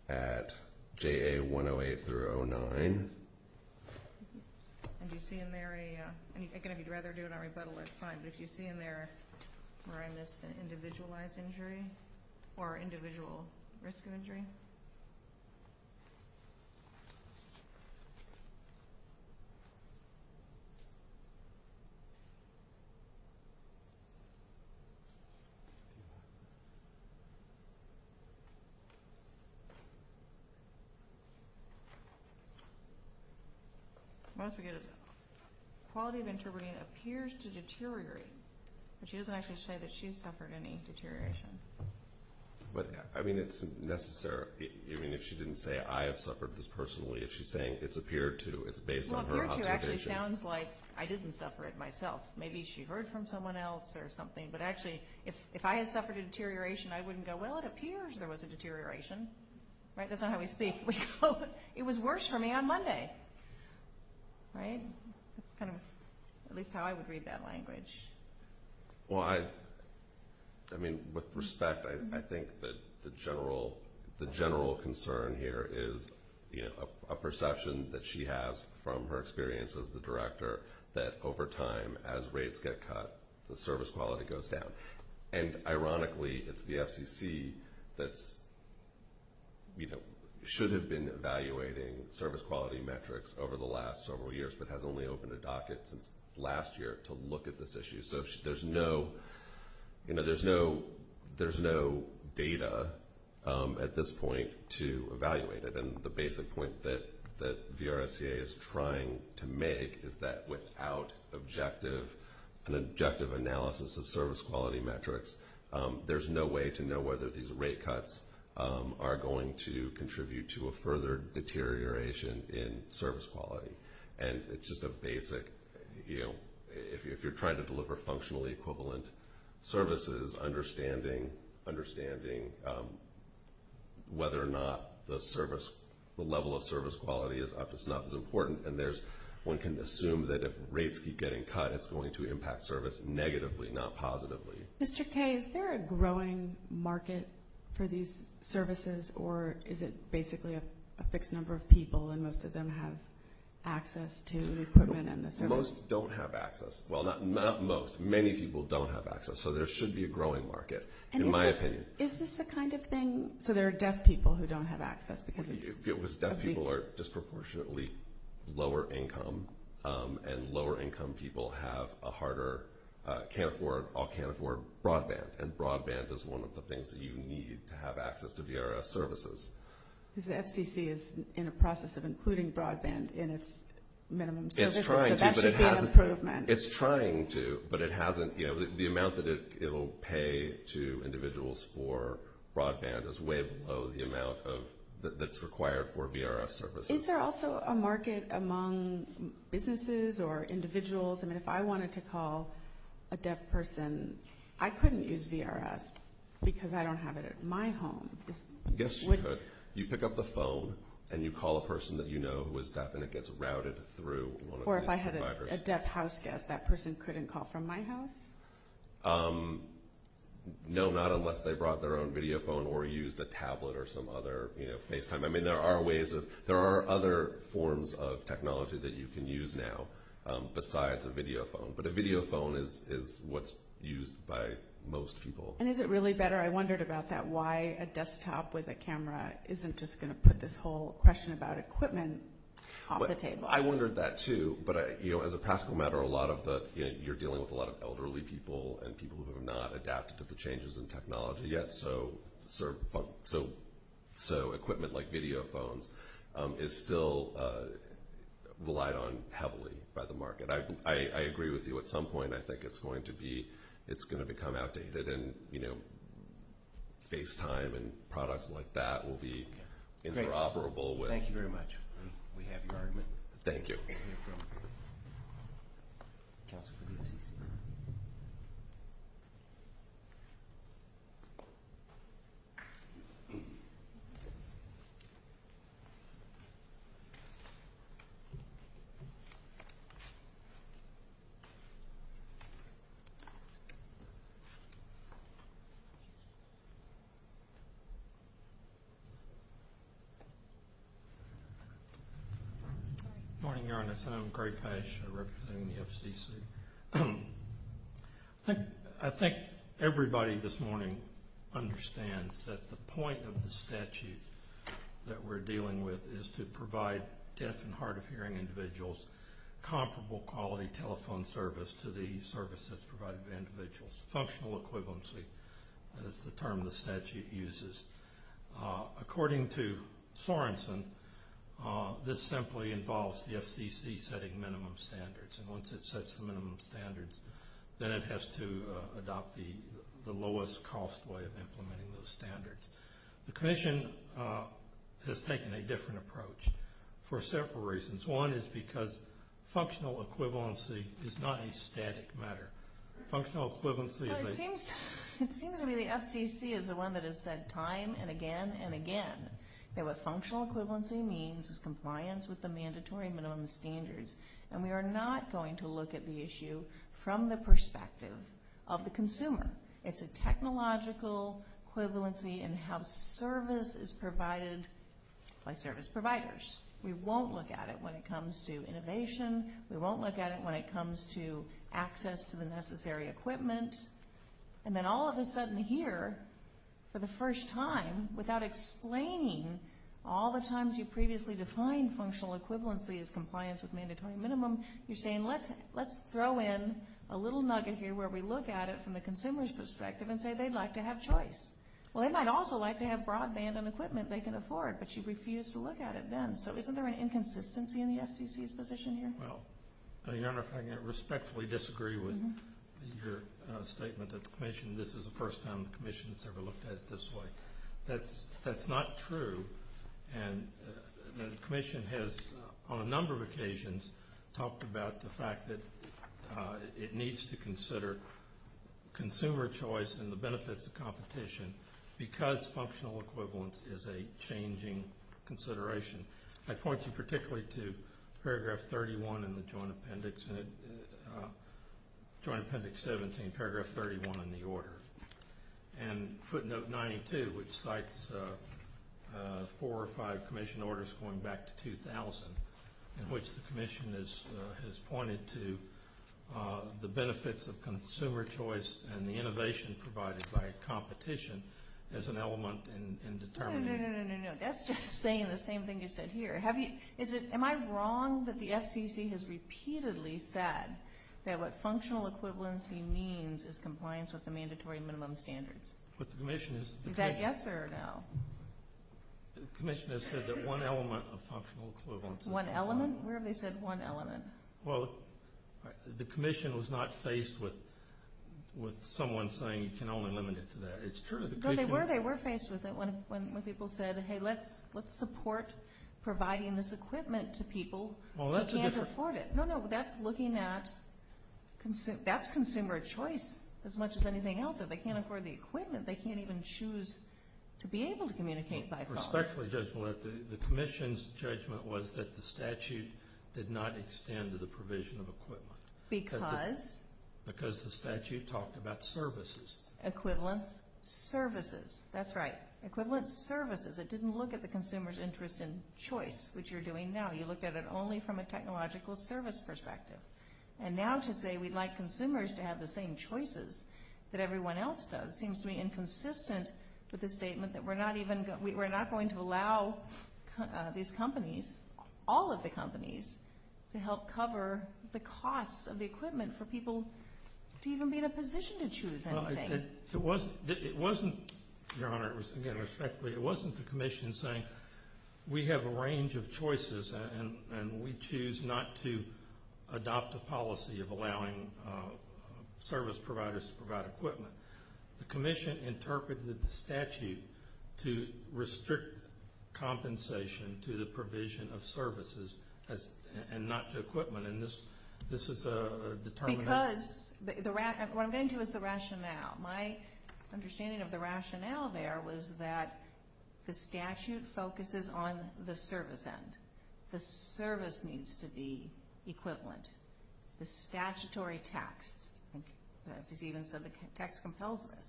at JA108-09. And do you see in there a – again, if you'd rather do it on rebuttal, that's fine. But do you see in there where I missed an individualized injury or individual risk of injury? Okay. I'm going to forget it. Quality of intervention appears to deteriorate. But she doesn't have to say that she's suffered any deterioration. But, I mean, it's necessary. I mean, if she didn't say, I have suffered this personally, if she's saying it's appeared to, it's based on her observation. Well, appeared to actually sounds like I didn't suffer it myself. Maybe she heard from someone else or something. But actually, if I had suffered a deterioration, I wouldn't go, well, it appears there was a deterioration. Right? That's not how we speak. We go, it was worse for me on Monday. Right? That's kind of at least how I would read that language. Well, I mean, with respect, I think the general concern here is a perception that she has from her experience as the director that over time, as rates get cut, the service quality goes down. And, ironically, it's the FCC that should have been evaluating service quality metrics over the last several years but has only opened a docket since last year to look at this issue. So there's no data at this point to evaluate it. And the basic point that VRSA is trying to make is that without an objective analysis of service quality metrics, there's no way to know whether these rate cuts are going to contribute to a further deterioration in service quality. And it's just a basic, you know, if you're trying to deliver functionally equivalent services, understanding whether or not the level of service quality is up is not as important. And one can assume that if rates keep getting cut, it's going to impact service negatively, not positively. Mr. Kaye, is there a growing market for these services, or is it basically a fixed number of people and most of them have access to the equipment and the service? Most don't have access. Well, not most. Many people don't have access. So there should be a growing market, in my opinion. Is this the kind of thing – so there are deaf people who don't have access because – Deaf people are disproportionately lower income, and lower income people have a harder – can't afford – all can't afford broadband. And broadband is one of the things that you need to have access to VRS services. Because the FCC is in a process of including broadband in its minimum services. It's trying to, but it hasn't – it's trying to, but it hasn't – you know, the amount that it will pay to individuals for broadband is way below the amount of – that's required for VRS services. Is there also a market among businesses or individuals? I mean, if I wanted to call a deaf person, I couldn't use VRS because I don't have it at my home. Yes, you could. You pick up the phone and you call a person that you know who is deaf and it gets routed through one of the providers. Or if I had a deaf house guest, that person couldn't call from my house? No, not unless they brought their own video phone or used a tablet or some other, you know, FaceTime. I mean, there are ways of – there are other forms of technology that you can use now besides a video phone. But a video phone is what's used by most people. And is it really better? I wondered about that, why a desktop with a camera isn't just going to put this whole question about equipment off the table. I wondered that too. But, you know, as a practical matter, a lot of the – you're dealing with a lot of elderly people and people who have not adapted to the changes in technology yet. So equipment like video phones is still relied on heavily by the market. I agree with you at some point. I think it's going to be – it's going to become outdated and, you know, FaceTime and products like that will be interoperable with – Thank you very much. We have your argument. Thank you. Thank you. Good morning, Your Honor. Sam Grayfash representing the FCC. I think everybody this morning understands that the point of the statute that we're dealing with is to provide deaf and hard-of-hearing individuals comparable quality telephone service to the services provided by individuals. Functional equivalency is the term the statute uses. According to Sorensen, this simply involves the FCC setting minimum standards. And once it sets the minimum standards, then it has to adopt the lowest-cost way of implementing those standards. The Commission has taken a different approach for several reasons. One is because functional equivalency is not a static matter. Functional equivalency is – It seems to me the FCC is the one that has said time and again and again that what functional equivalency means is compliance with the mandatory minimum standards. And we are not going to look at the issue from the perspective of the consumer. It's a technological equivalency in how service is provided by service providers. We won't look at it when it comes to innovation. We won't look at it when it comes to access to the necessary equipment. And then all of a sudden here, for the first time, without explaining all the times you've previously defined functional equivalency as compliance with mandatory minimum, you're saying let's throw in a little nugget here where we look at it from the consumer's perspective and say they'd like to have choice. Well, they might also like to have broadband and equipment they can afford, but you refuse to look at it then. So isn't there an inconsistency in the FCC's position here? I respectfully disagree with your statement that the Commission – this is the first time the Commission has ever looked at it this way. That's not true. And the Commission has, on a number of occasions, talked about the fact that it needs to consider consumer choice and the benefits of competition because functional equivalence is a changing consideration. I point you particularly to Paragraph 31 in the Joint Appendix 17, Paragraph 31 in the order. And footnote 92, which cites four or five Commission orders going back to 2000, in which the Commission has pointed to the benefits of consumer choice and the innovation provided by competition as an element in determining. No, no, no, no, no, no. That's just saying the same thing you said here. Am I wrong that the FCC has repeatedly said that what functional equivalency means is compliance with the mandatory minimum standards? That gets there now. The Commission has said that one element of functional equivalence. One element? Where have they said one element? Well, the Commission was not faced with someone saying you can only limit it to that. It's true. No, they were. They were faced with it when people said, hey, let's support providing this equipment to people who can't afford it. No, no, that's looking at consumer choice as much as anything else. If they can't afford the equipment, they can't even choose to be able to communicate by phone. Respectfully, Judge, the Commission's judgment was that the statute did not extend to the provision of equipment. Because? Because the statute talked about services. Equivalent services. That's right. Equivalent services. It didn't look at the consumer's interest in choice, which you're doing now. You look at it only from a technological service perspective. And now to say we'd like consumers to have the same choices that everyone else does seems to be inconsistent with the statement that we're not going to allow these companies, all of the companies, to help cover the cost of the equipment for people to even be in a position to choose anything. It wasn't, Your Honor, respectfully, it wasn't the Commission saying we have a range of choices and we choose not to adopt a policy of allowing service providers to provide equipment. The Commission interpreted the statute to restrict compensation to the provision of services and not to equipment. And this is a determination. What I'm getting to is the rationale. My understanding of the rationale there was that the statute focuses on the service end. The service needs to be equivalent. The statutory text, as you even said, the text compels it.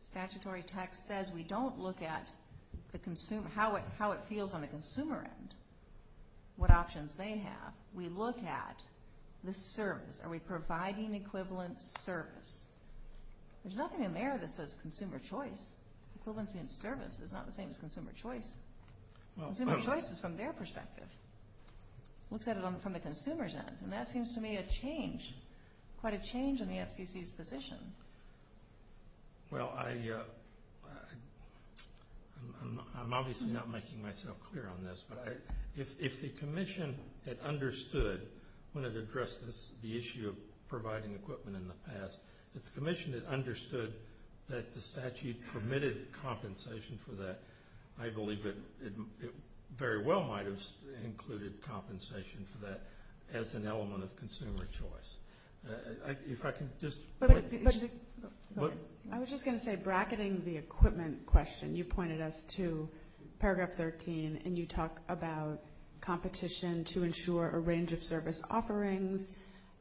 Statutory text says we don't look at how it feels on the consumer end, what options they have. We look at the service. Are we providing equivalent service? There's nothing in there that says consumer choice. Equivalency in service is not the same as consumer choice. Consumer choice is from their perspective. Look at it from the consumer's end. And that seems to me a change, quite a change in the FPC's position. Well, I'm obviously not making myself clear on this, but if the Commission had understood when it addressed the issue of providing equipment in the past, if the Commission had understood that the statute permitted compensation for that, I believe it very well might have included compensation for that as an element of consumer choice. If I can just point to that. I was just going to say bracketing the equipment question, and you pointed us to paragraph 13, and you talk about competition to ensure a range of service offerings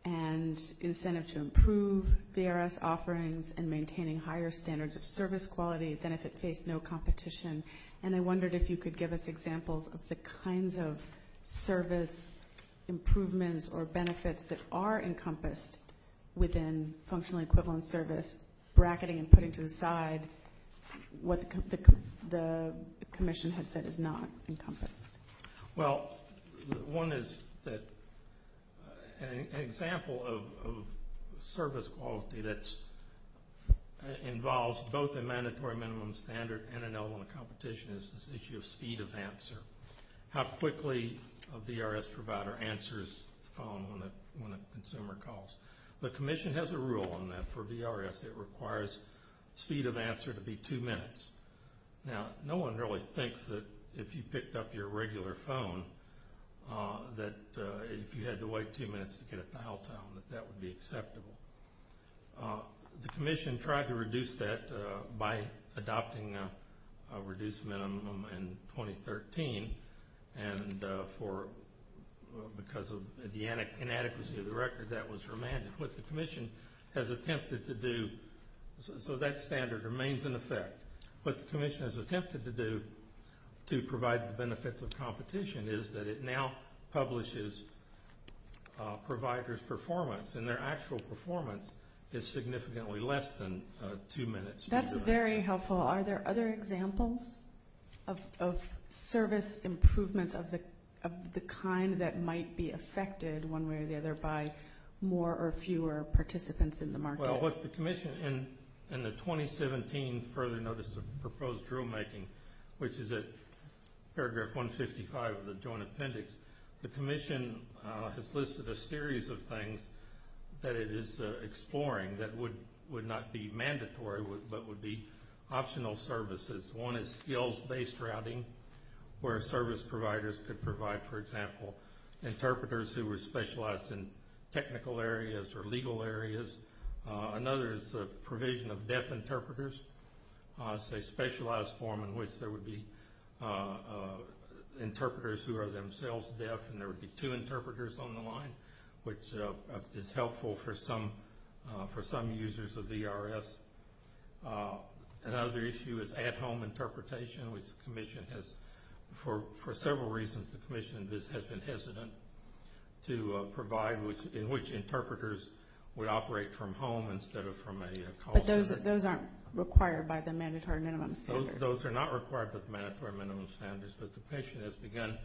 and incentives to improve VRS offerings and maintaining higher standards of service quality than if it faced no competition. And I wondered if you could give us examples of the kinds of service improvements or benefits that are encompassed within functional equivalent service, and bracketing and putting to the side what the Commission has said is not encompassed. Well, one is that an example of service quality that involves both a mandatory minimum standard and an element of competition is this issue of speed of answer, how quickly a VRS provider answers the phone when a consumer calls. The Commission has a rule on that for VRS. It requires speed of answer to be two minutes. Now, no one really thinks that if you picked up your regular phone that if you had to wait two minutes to get a dial tone, that that would be acceptable. The Commission tried to reduce that by adopting a reduced minimum in 2013, and because of the inadequacy of the record, that was remanded. What the Commission has attempted to do, so that standard remains in effect. What the Commission has attempted to do to provide the benefits of competition is that it now publishes a provider's performance, and their actual performance is significantly less than two minutes. That's very helpful. Are there other examples of service improvements of the kind that might be affected one way or the other by more or fewer participants in the market? Well, look, the Commission in the 2017 Further Notices of Proposed Rulemaking, which is at paragraph 155 of the Joint Appendix, the Commission has listed a series of things that it is exploring that would not be mandatory but would be optional services. One is skills-based routing where service providers could provide, for example, interpreters who were specialized in technical areas or legal areas. Another is the provision of deaf interpreters, a specialized form in which there would be interpreters who are themselves deaf, and there would be two interpreters on the line, which is helpful for some users of DRS. Another issue is at-home interpretation, which the Commission has, for several reasons, the Commission has been hesitant to provide in which interpreters would operate from home instead of from a call center. But those aren't required by the mandatory minimum standards. Those are not required by the mandatory minimum standards, but the patient has begun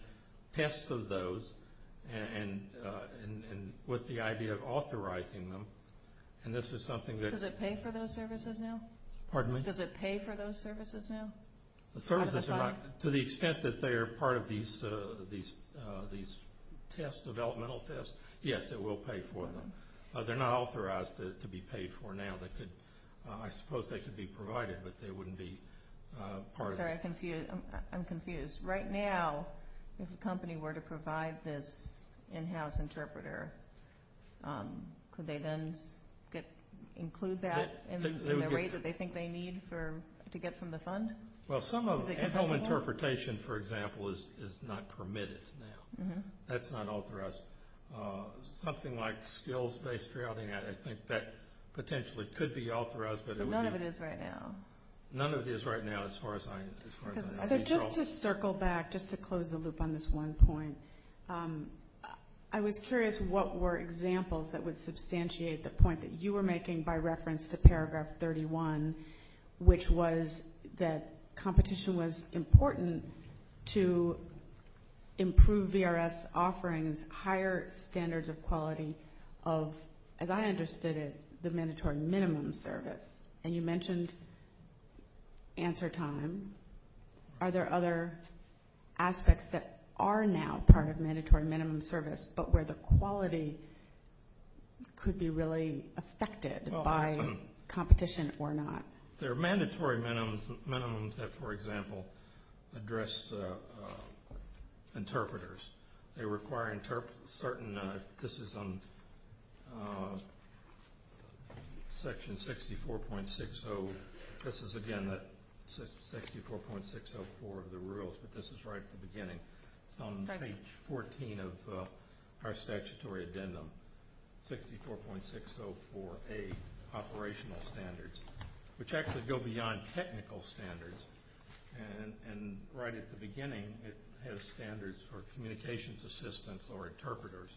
tests of those and with the idea of authorizing them, and this is something that's... Does it pay for those services now? Pardon me? Does it pay for those services now? The services are not, to the extent that they are part of these tests, developmental tests, yes, it will pay for them. They're not authorized to be paid for now. I suppose they could be provided, but they wouldn't be part of it. I'm sorry, I'm confused. Right now, if a company were to provide this in-house interpreter, could they then include that in the way that they think they need to get from the fund? Well, some of the in-home interpretation, for example, is not permitted now. That's not authorized. Something like skills-based routing, I think that potentially could be authorized. But none of it is right now. None of it is right now as far as I know. Just to circle back, just to close the loop on this one point, I was curious what were examples that would substantiate the point that you were making by reference to paragraph 31, which was that competition was important to improve VRS offerings, higher standards of quality of, as I understood it, the mandatory minimum service. And you mentioned answer time. Are there other aspects that are now part of mandatory minimum service, but where the quality could be really affected by competition or not? There are mandatory minimums that, for example, address interpreters. They require certain, this is section 64.60. This is, again, 64.604 of the rules, but this is right at the beginning. On page 14 of our statutory addendum, 64.604A, operational standards, which actually go beyond technical standards. And right at the beginning, it has standards for communications assistants or interpreters.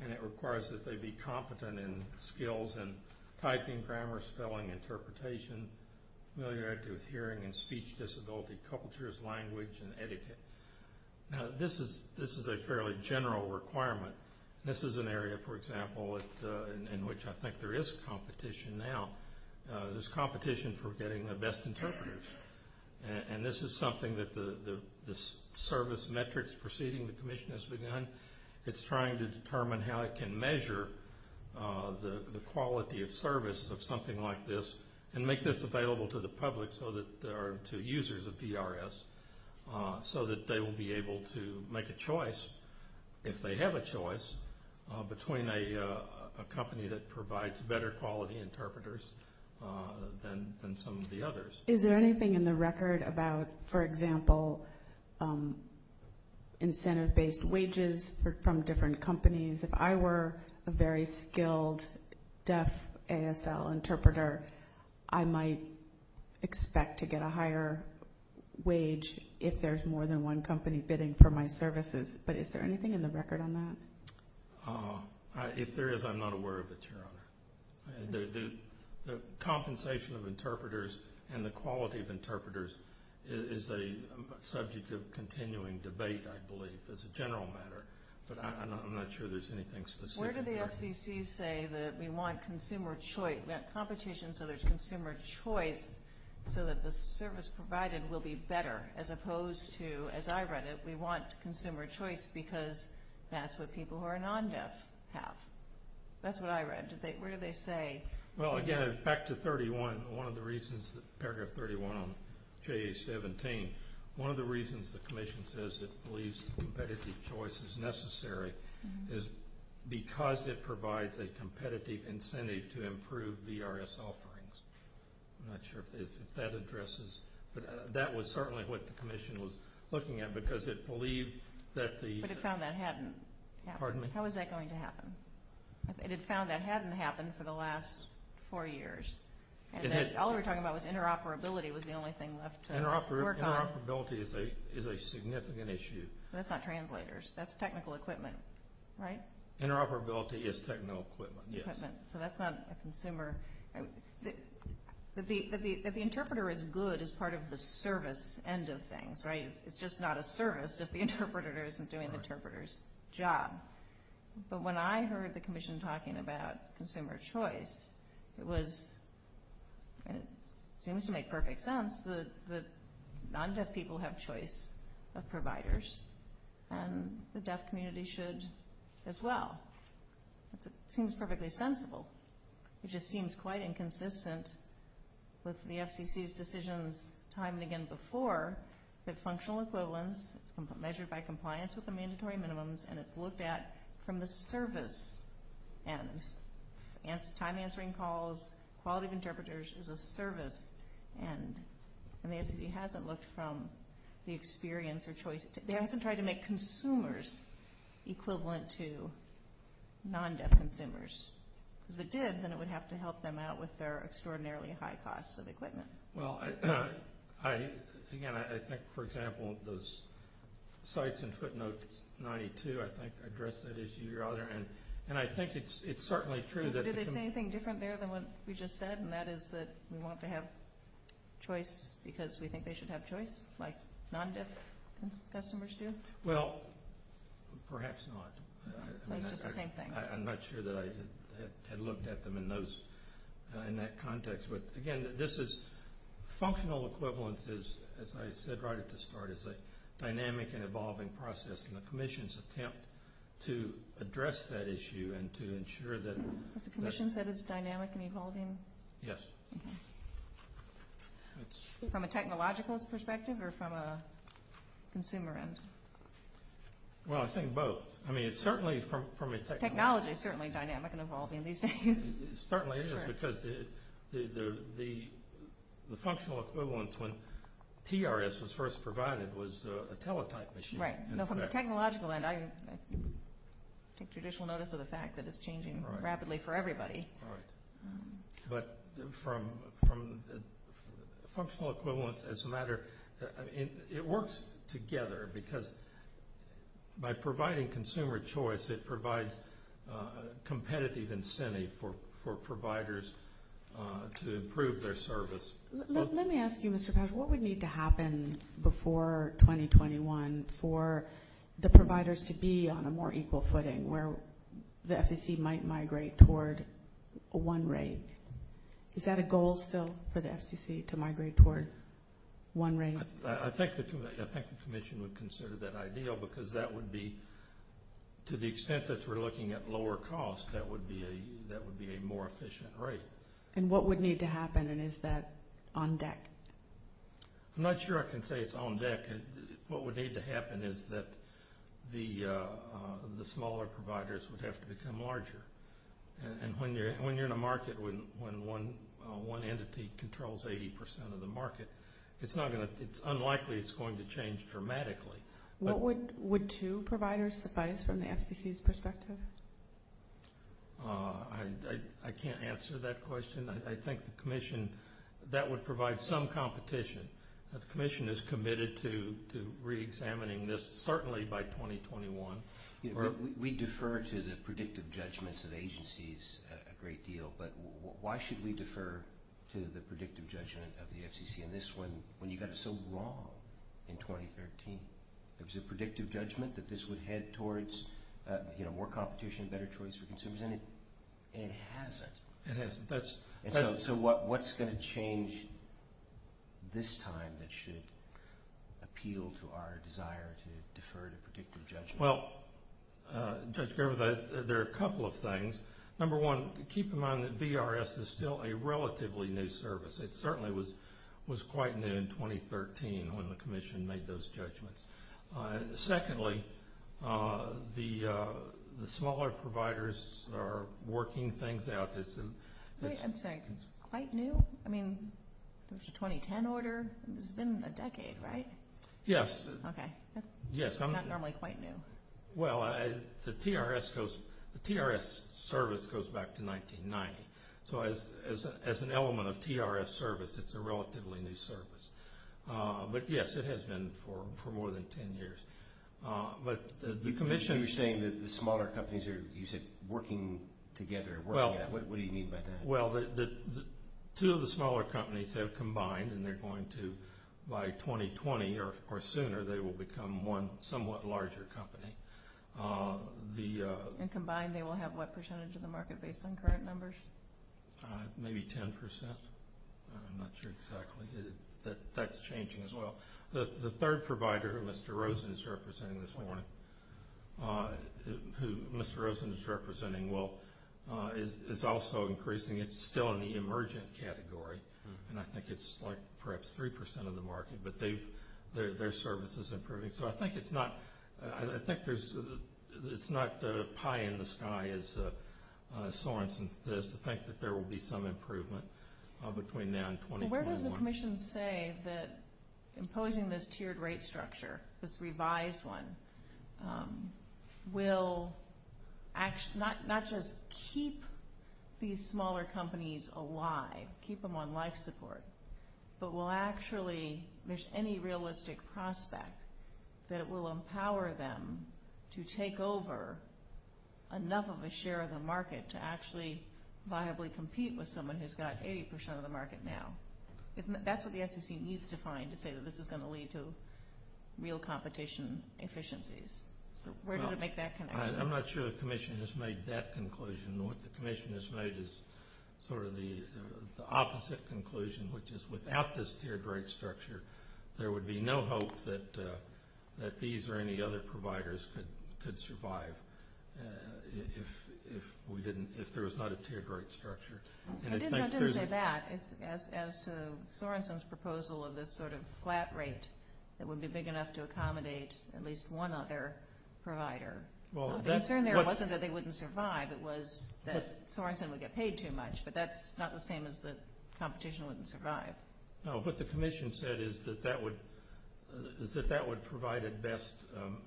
And it requires that they be competent in skills in typing, grammar, spelling, interpretation, familiar with hearing and speech disability, cultures, language, and etiquette. Now, this is a fairly general requirement. This is an area, for example, in which I think there is competition now. There's competition for getting the best interpreters. And this is something that the service metrics proceeding with the commission has begun. It's trying to determine how it can measure the quality of service of something like this and make this available to the public, to users of PRS, so that they will be able to make a choice, if they have a choice, between a company that provides better quality interpreters than some of the others. Is there anything in the record about, for example, incentive-based wages from different companies? If I were a very skilled deaf ASL interpreter, I might expect to get a higher wage if there's more than one company bidding for my services. But is there anything in the record on that? If there is, I'm not aware of it, Your Honor. The compensation of interpreters and the quality of interpreters is a subject of continuing debate, I believe, as a general matter. But I'm not sure there's anything specific. Where did the SEC say that we want consumer choice, that competition so there's consumer choice so that the service provided will be better, as opposed to, as I read it, we want consumer choice because that's what people who are non-deaf have? That's what I read. Where do they say? Well, again, back to 31, one of the reasons, paragraph 31 on JA-17, one of the reasons the Commission says it believes competitive choice is necessary is because it provides a competitive incentive to improve VRS offerings. I'm not sure if that addresses. That was certainly what the Commission was looking at because it believed that the... But it found that hadn't happened. Pardon me? How is that going to happen? It had found that hadn't happened for the last four years. All we were talking about was interoperability was the only thing left to work on. Interoperability is a significant issue. That's not translators. That's technical equipment, right? Interoperability is technical equipment, yes. So that's not a consumer. The interpreter is good as part of the service end of things, right? It's just not a service if the interpreter isn't doing the interpreter's job. But when I heard the Commission talking about consumer choice, it seemed to make perfect sense that non-deaf people have choice of providers and the deaf community should as well. It seems perfectly sensible. It just seems quite inconsistent with the FCC's decision time and again before that functional equivalence measured by compliance with the mandatory minimums and it's looked at from the service end. Time answering calls, quality of interpreters is a service end. And the FCC hasn't looked from the experience or choice... If it did, then it would have to help them out with their extraordinarily high cost of equipment. Well, again, I think, for example, those sites and footnotes 92, I think, address that issue rather. And I think it's certainly true that... Did they say anything different there than what we just said, and that is that we want to have choice because we think they should have choice, like non-deaf customers do? Well, perhaps not. It's the same thing. I'm not sure that I looked at them in that context. But, again, this is functional equivalence, as I said right at the start, is a dynamic and evolving process. And the Commission's attempt to address that issue and to ensure that... The Commission said it's dynamic and evolving? Yes. From a technological perspective or from a consumer end? Well, I think both. Technology is certainly dynamic and evolving. It certainly is because the functional equivalence when TRS was first provided was a teletype machine. Right. So from a technological end, I take traditional notice of the fact that it's changing rapidly for everybody. Right. But from a functional equivalence as a matter... It provides competitive incentive for providers to improve their service. Let me ask you, Mr. Patterson, what would need to happen before 2021 for the providers to be on a more equal footing where the FCC might migrate toward one rate? Is that a goal still for the FCC to migrate toward one rate? I think the Commission would consider that ideal because that would be, to the extent that we're looking at lower cost, that would be a more efficient rate. And what would need to happen, and is that on deck? I'm not sure I can say it's on deck. What would need to happen is that the smaller providers would have to become larger. And when you're in a market when one entity controls 80% of the market, it's unlikely it's going to change dramatically. Would two providers suffice from the FCC's perspective? I can't answer that question. I think the Commission, that would provide some competition. But the Commission is committed to reexamining this, certainly by 2021. We defer to the predictive judgments of agencies a great deal, but why should we defer to the predictive judgment of the FCC on this one when you got so wrong in 2013? There was a predictive judgment that this would head towards more competition and better choice for consumers, and it hasn't. It hasn't. So what's going to change this time that should appeal to our desire to defer to predictive judgment? Well, Judge Gerber, there are a couple of things. Number one, keep in mind that BRS is still a relatively new service. It certainly was quite new in 2013 when the Commission made those judgments. Secondly, the smaller providers are working things out. Wait a second. Quite new? I mean, there was a 2010 order. It's been a decade, right? Yes. Okay. It's not normally quite new. Well, the PRS service goes back to 1990. So as an element of PRS service, it's a relatively new service. But, yes, it has been for more than 10 years. But the Commission – You say that the smaller companies are working together. What do you mean by that? Well, two of the smaller companies have combined, and they're going to, by 2020 or sooner, they will become one somewhat larger company. And combined they will have what percentage of the market based on current numbers? Maybe 10%. I'm not sure exactly. That's changing as well. The third provider, who Mr. Rosen is representing this morning, who Mr. Rosen is representing, well, is also increasing. It's still in the emergent category, and I think it's like perhaps 3% of the market. But their service is improving. So I think it's not high in the sky, so on, to think that there will be some improvement between now and 2021. Where does the Commission say that imposing this tiered rate structure, this revised one, will not just keep these smaller companies alive, keep them on life support, but will actually, with any realistic prospect, that it will empower them to take over enough of a share of the market to actually viably compete with someone who's got 80% of the market now? That's what the SEC needs to find to say that this is going to lead to real competition efficiencies. Where does it make that connection? I'm not sure the Commission has made that conclusion. What the Commission has made is sort of the opposite conclusion, which is without this tiered rate structure, there would be no hope that these or any other providers could survive if there was not a tiered rate structure. I didn't say that. As to Sorenson's proposal of this sort of flat rate that would be big enough to accommodate at least one other provider, the concern there wasn't that they wouldn't survive. It was that Sorenson would get paid too much, but that's not the same as the competition wouldn't survive. No, what the Commission said is that that would provide at best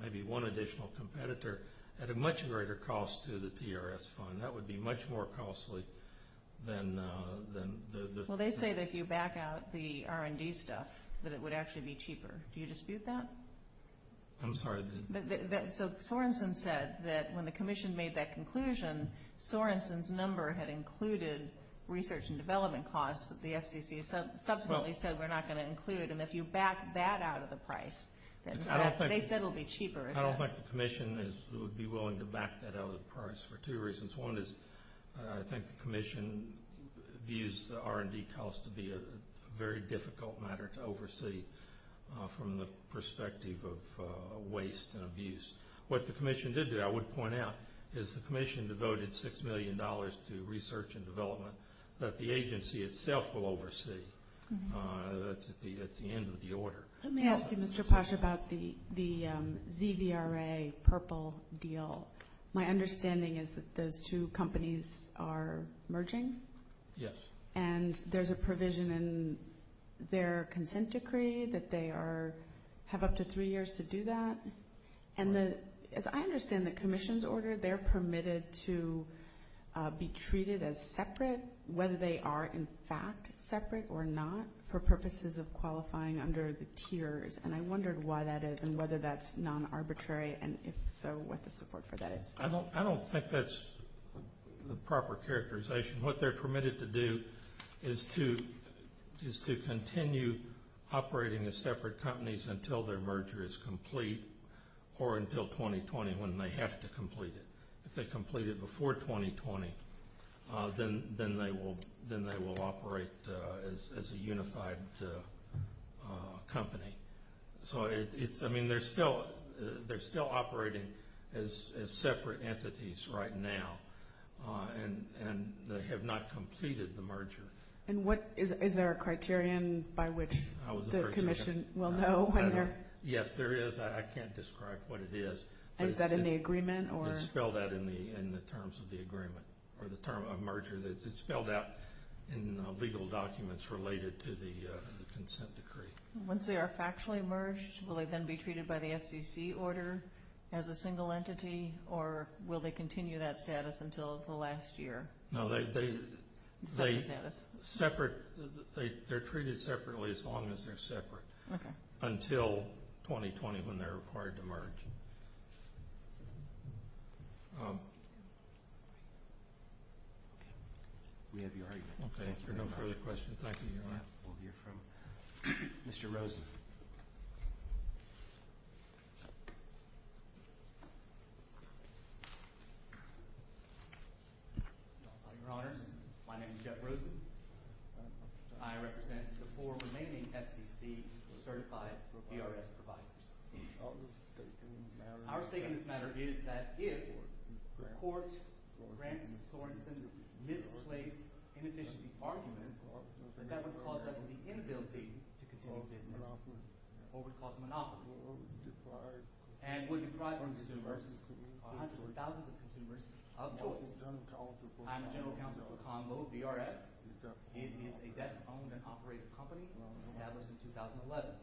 maybe one additional competitor at a much greater cost to the TRS fund. That would be much more costly than the… Well, they say that if you back out the R&D stuff that it would actually be cheaper. Do you dispute that? I'm sorry. Sorenson said that when the Commission made that conclusion, Sorenson's number had included research and development costs that the FCC subsequently said we're not going to include, and if you back that out of the price, they said it would be cheaper. I don't think the Commission would be willing to back that out of the price for two reasons. One is I think the Commission views the R&D costs to be a very difficult matter to oversee from the perspective of waste and abuse. What the Commission did do, I would point out, is the Commission devoted $6 million to research and development that the agency itself will oversee. That's at the end of the order. Let me ask you, Mr. Posh, about the ZBRA purple deal. My understanding is that those two companies are merging. Yes. And there's a provision in their consent decree that they have up to three years to do that. And as I understand the Commission's order, they're permitted to be treated as separate, whether they are in fact separate or not, for purposes of qualifying under the tiers. And I wondered why that is and whether that's non-arbitrary, and if so, what the support for that is. I don't think that's the proper characterization. What they're permitted to do is to continue operating as separate companies until their merger is complete or until 2020 when they have to complete it. If they complete it before 2020, then they will operate as a unified company. So, I mean, they're still operating as separate entities right now, and they have not completed the merger. And is there a criterion by which the Commission will know? Yes, there is. I can't describe what it is. Is that in the agreement? It's spelled out in the terms of the agreement, or the term of merger. It's spelled out in legal documents related to the consent decree. Once they are factually merged, will they then be treated by the FCC order as a single entity, or will they continue that status until the last year? No, they're treated separately as long as they're separate until 2020 when they're required to merge. Any other questions? We have no further questions. Thank you very much. We'll hear from Mr. Rosen. Your Honor, my name is Jeff Rosen, and I represent the four remaining FCC certified PRS providers. Our statement of the matter is that if the court granted Mr. Rosen misplaced inefficient arguments, that would cause us to be inability to disclose any of what was called monopolies. And we're deprived from this merger of hundreds of thousands of consumers. Of course, I'm the general counsel of Combo BRS, a debt-owned and operated company established in 2011.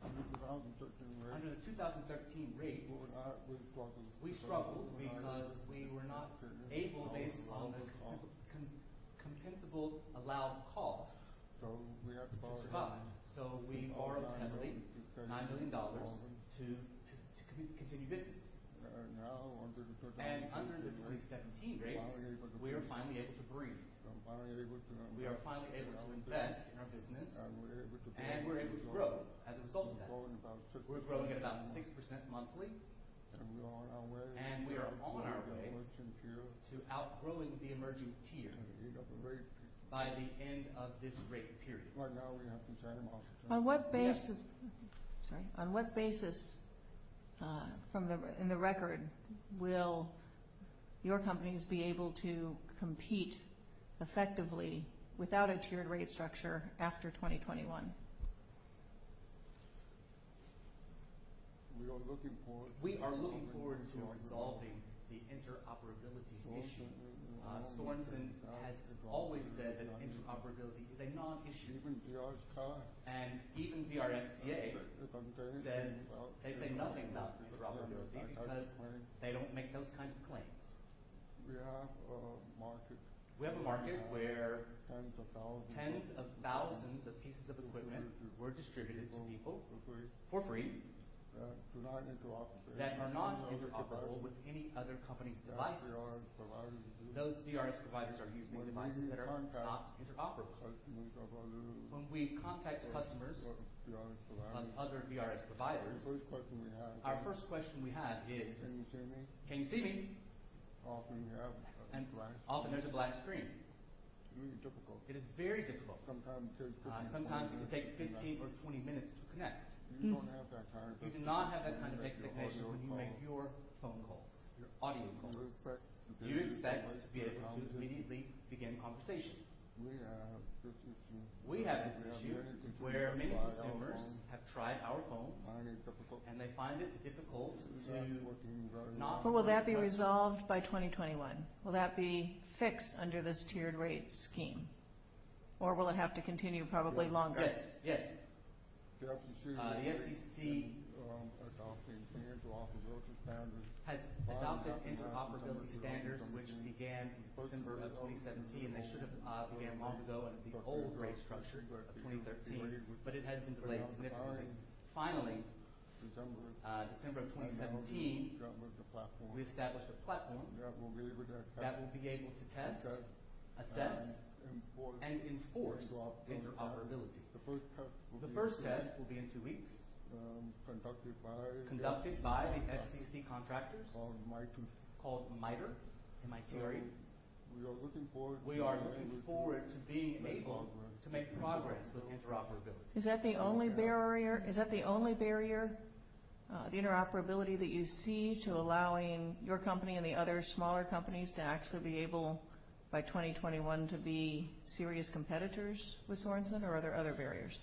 Under the 2013 rate, we struggled because we were not able to pay for all the consensual allowed costs. So we borrowed $9 million to continue business. And under the 2017 rate, we are finally able to breathe. We are finally able to invest in our business. And we're able to grow as a result of that. We're growing at about 6% monthly. And we are on our way to outgrowing the emerging peers by the end of this rate period. On what basis in the record will your companies be able to compete effectively without a tiered rate structure after 2021? We are looking forward to resolving the interoperability issue. The ones that have always said that interoperability is a non-issue. And even BRSA said they say nothing about this problem because they don't make those kinds of claims. We have a market where tens of thousands of pieces of equipment were distributed for free that are not interoperable with any other company's device. Those BRSA providers are using devices that are not interoperable. When we contact customers of other BRSA providers, our first question we have is, can you see me? And often it's a black screen. It is very difficult. Sometimes it takes 15 or 20 minutes to connect. We do not have that kind of technical issue when you make your phone call, your audio call. You expect us to be able to immediately begin a conversation. We have this issue where many customers have tried our phone and they find it difficult to connect. Will that be resolved by 2021? Will that be fixed under this tiered rate scheme? Or will it have to continue probably longer? Yes. The FCC has adopted interoperability standards, which began in December of 2017, and they should have begun long ago in the old rate structure in 2013. But it has been delayed. Finally, in December of 2017, we established a platform that will be able to test, assess, and enforce interoperability. The first test will be in two weeks, conducted by the FCC contractor called MITRE. We are looking forward to being able to make progress with interoperability. Is that the only barrier, the interoperability that you see to allowing your company and the other smaller companies to actually be able by 2021 to be serious competitors with Sorenson, or are there other barriers?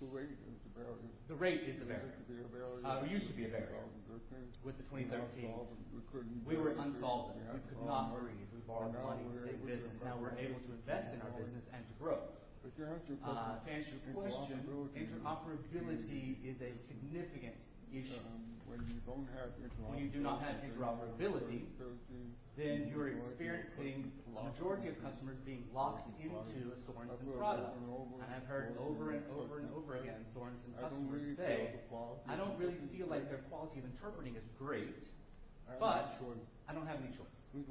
The rate is a barrier. It used to be a barrier with the 2013. We were involved in it. We could not worry as far as wanting to sit with it. Now we're able to invest in our business and grow. To answer your question, interoperability is a significant issue. When you do not have interoperability, then you're experiencing a majority of customers being locked into a Sorenson product. I have heard over and over and over again Sorenson customers say, I don't really feel like their quality of interpreting is great, but I don't have any choice. We had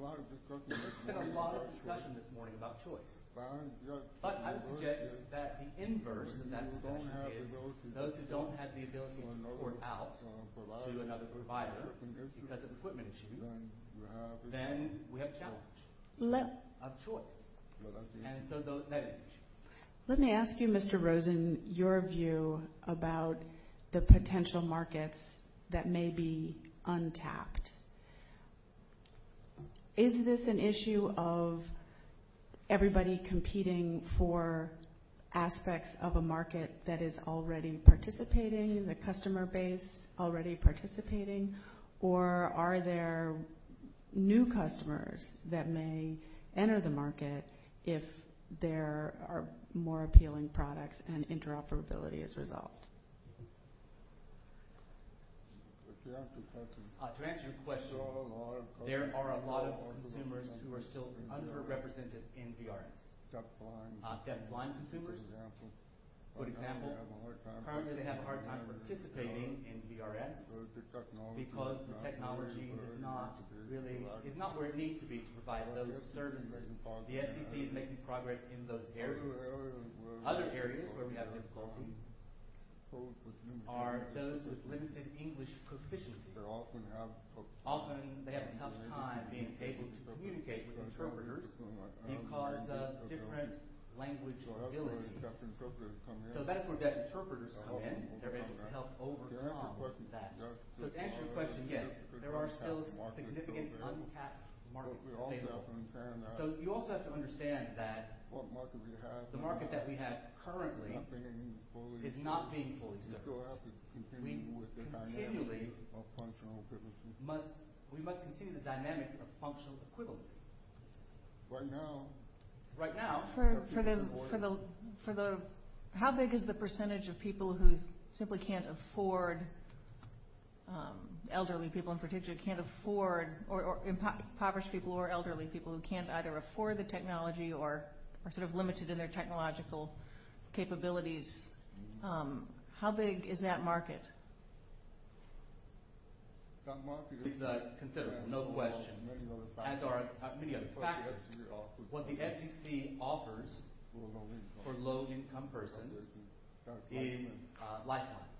a lot of discussion this morning about choice. But I would say that the inverse of that discussion is those who don't have the ability to afford out to another provider, like an equipment issue, then we have a challenge of choice. And so those things. Let me ask you, Mr. Rosen, your view about the potential markets that may be untapped. Is this an issue of everybody competing for aspects of a market that is already participating, the customer base already participating, or are there new customers that may enter the market if there are more appealing products and interoperability is resolved? To answer your question, there are a lot of consumers who are still underrepresented in VRS. Deaf-blind consumers, for example, currently have a hard time participating in VRS because the technology is not where it needs to be to provide those services. We have to keep making progress in those areas. Other areas where we have a problem are those with limited English proficiency. Often they have a tough time being able to communicate with interpreters because of different language abilities. So that's where deaf interpreters come in. They're able to help overcome some of that. To answer your question, yes, there are still significant untapped markets. So you also have to understand that the market that we have currently is not being fully developed. We continually must continue the dynamic of functional equivalency. How big is the percentage of people who simply can't afford, elderly people in particular can't afford, or impoverished people or elderly people who can't either afford the technology or are sort of limited in their technological capabilities? How big is that market? It's considerable, no question. As are many other factors, what the FEC offers for low-income persons is Lifeline.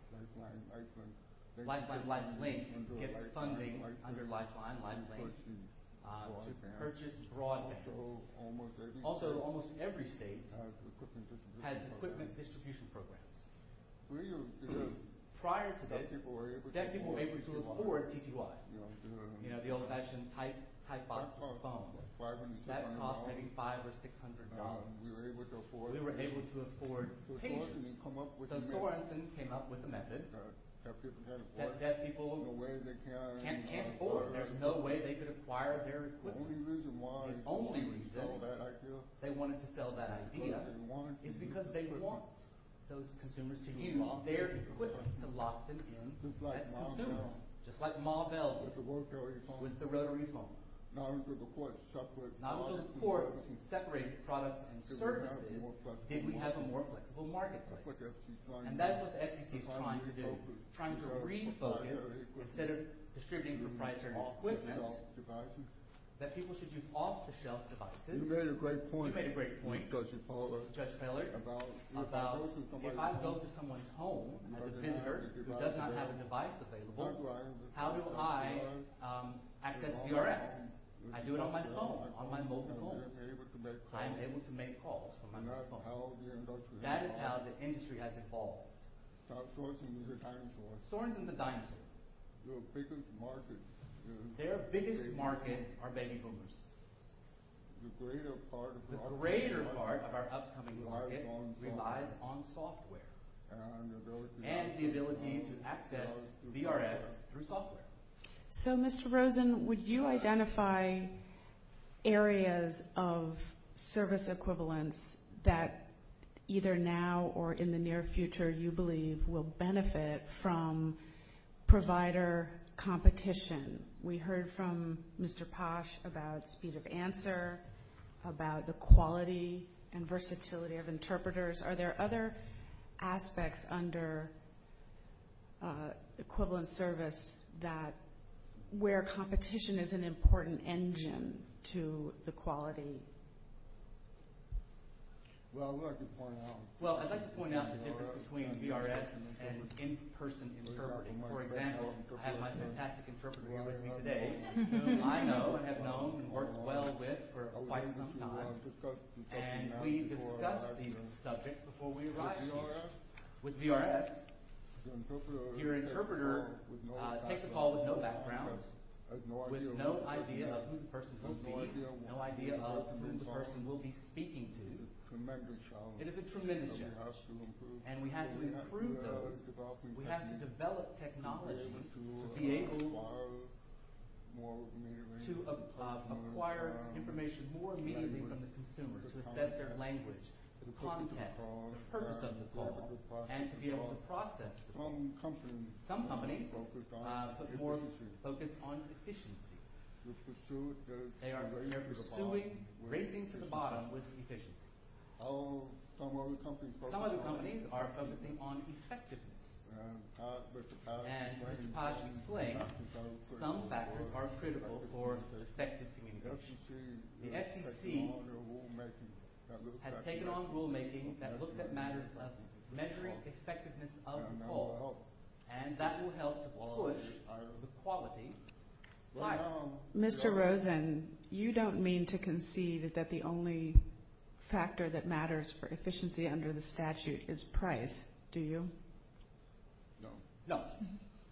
Lifeline and Lifeline Link can get their funding under Lifeline, Lifeline Link, purchase broadly. Also, almost every state has equipment distribution programs. Prior to this, deaf people were able to afford PQI. You know, the old-fashioned type box phone. That cost maybe $500 or $600. We were able to afford PQI. So Norrison came up with a method that deaf people can't afford. There's no way they could acquire their equipment. The only reason they wanted to sell that idea is because they want those consumers to give up their equipment to lock them in. Consumers, just like Ma Bell with the rotary phone. Not until the courts separate products and services did we have a more flexible market. And that's what the FEC is trying to do. Trying to refocus, instead of distributing the right small equipment, that people should use off-the-shelf devices. You made a great point, Judge Miller, about if I go to someone's home, a consumer who does not have a device available, how do I access VRM? I do it on my phone, on my mobile phone. I am able to make calls. That is how the industry has evolved. Sorenson's a dinosaur. Their biggest market are veggie boomers. The greater part of our upcoming market relies on software and the ability to access VRM through software. So, Mr. Rosen, would you identify areas of service equivalence that either now or in the near future, you believe, will benefit from provider competition? We heard from Mr. Posh about speed of answer, about the quality and versatility of interpreters. Are there other aspects under equivalent service where competition is an important engine to the quality? Well, I'd like to point out the difference between VRM and in-person interpreting. For example, I have a fantastic interpreter here with me today, whom I know and have known and worked well with for quite some time. And we discussed these subjects before we arrived. With VRM, your interpreter takes a call with no background, with no idea of who the person will be, no idea of who the person will be speaking to. And it's a tremendous challenge. And we have to improve those. We have to develop technology to be able to acquire information more immediately from the consumer, to assess their language, context, the purpose of the call, and to be able to process it. Some companies focus on efficiency. They are very much pursuing, racing to the bottom with efficiency. Some other companies are focusing on effectiveness. And Mr. Kaj can play. Some factors are critical for effectiveness. The FCC has taken on rulemaking that looks at matters of measuring effectiveness of the call. And that will help push the quality. Mr. Rosen, you don't mean to concede that the only factor that matters for efficiency under the statute is price, do you?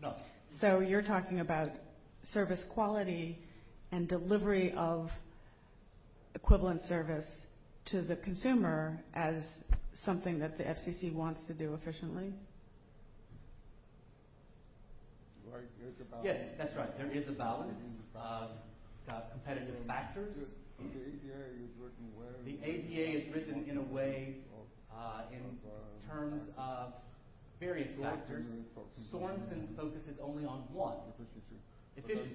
No. So you're talking about service quality and delivery of equivalent service to the consumer as something that the FCC wants to do efficiently? Yes, that's right. There is a balance of competitive factors. The APA is written in a way in terms of various factors. Sorensen focuses only on what? Efficiency.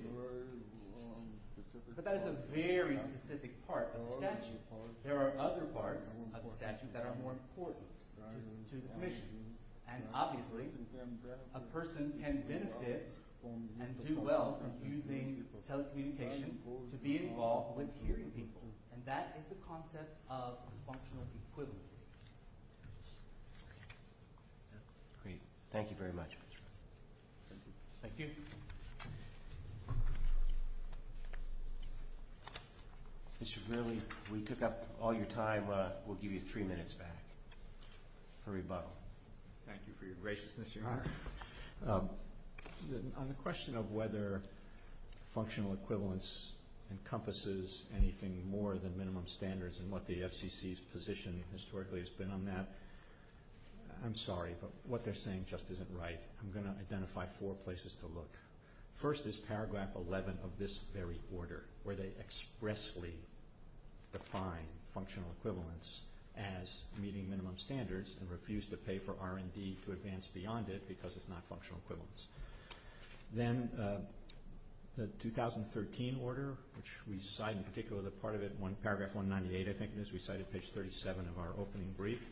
But that is a very specific part of the statute. There are other parts of the statute that are more important to the commission. And obviously, a person can benefit and do well from using telecommunications to be involved with hearing people. And that is the concept of functional equivalency. Great. Thank you very much. Thank you. Thank you. We took up all your time. We'll give you three minutes back. Hurry up. Thank you for your graciousness, Your Honor. On the question of whether functional equivalence encompasses anything more than minimum standards and what the FCC's position historically has been on that, I'm sorry, but what they're saying just isn't right. I'm going to identify four places to look. First is paragraph 11 of this very order, where they expressly define functional equivalence as meeting minimum standards and refuse to pay for R&D to advance beyond it because it's not functional equivalence. Then the 2013 order, which we cite in particular the part of it in paragraph 198, I think it is. We cite it in page 37 of our opening brief.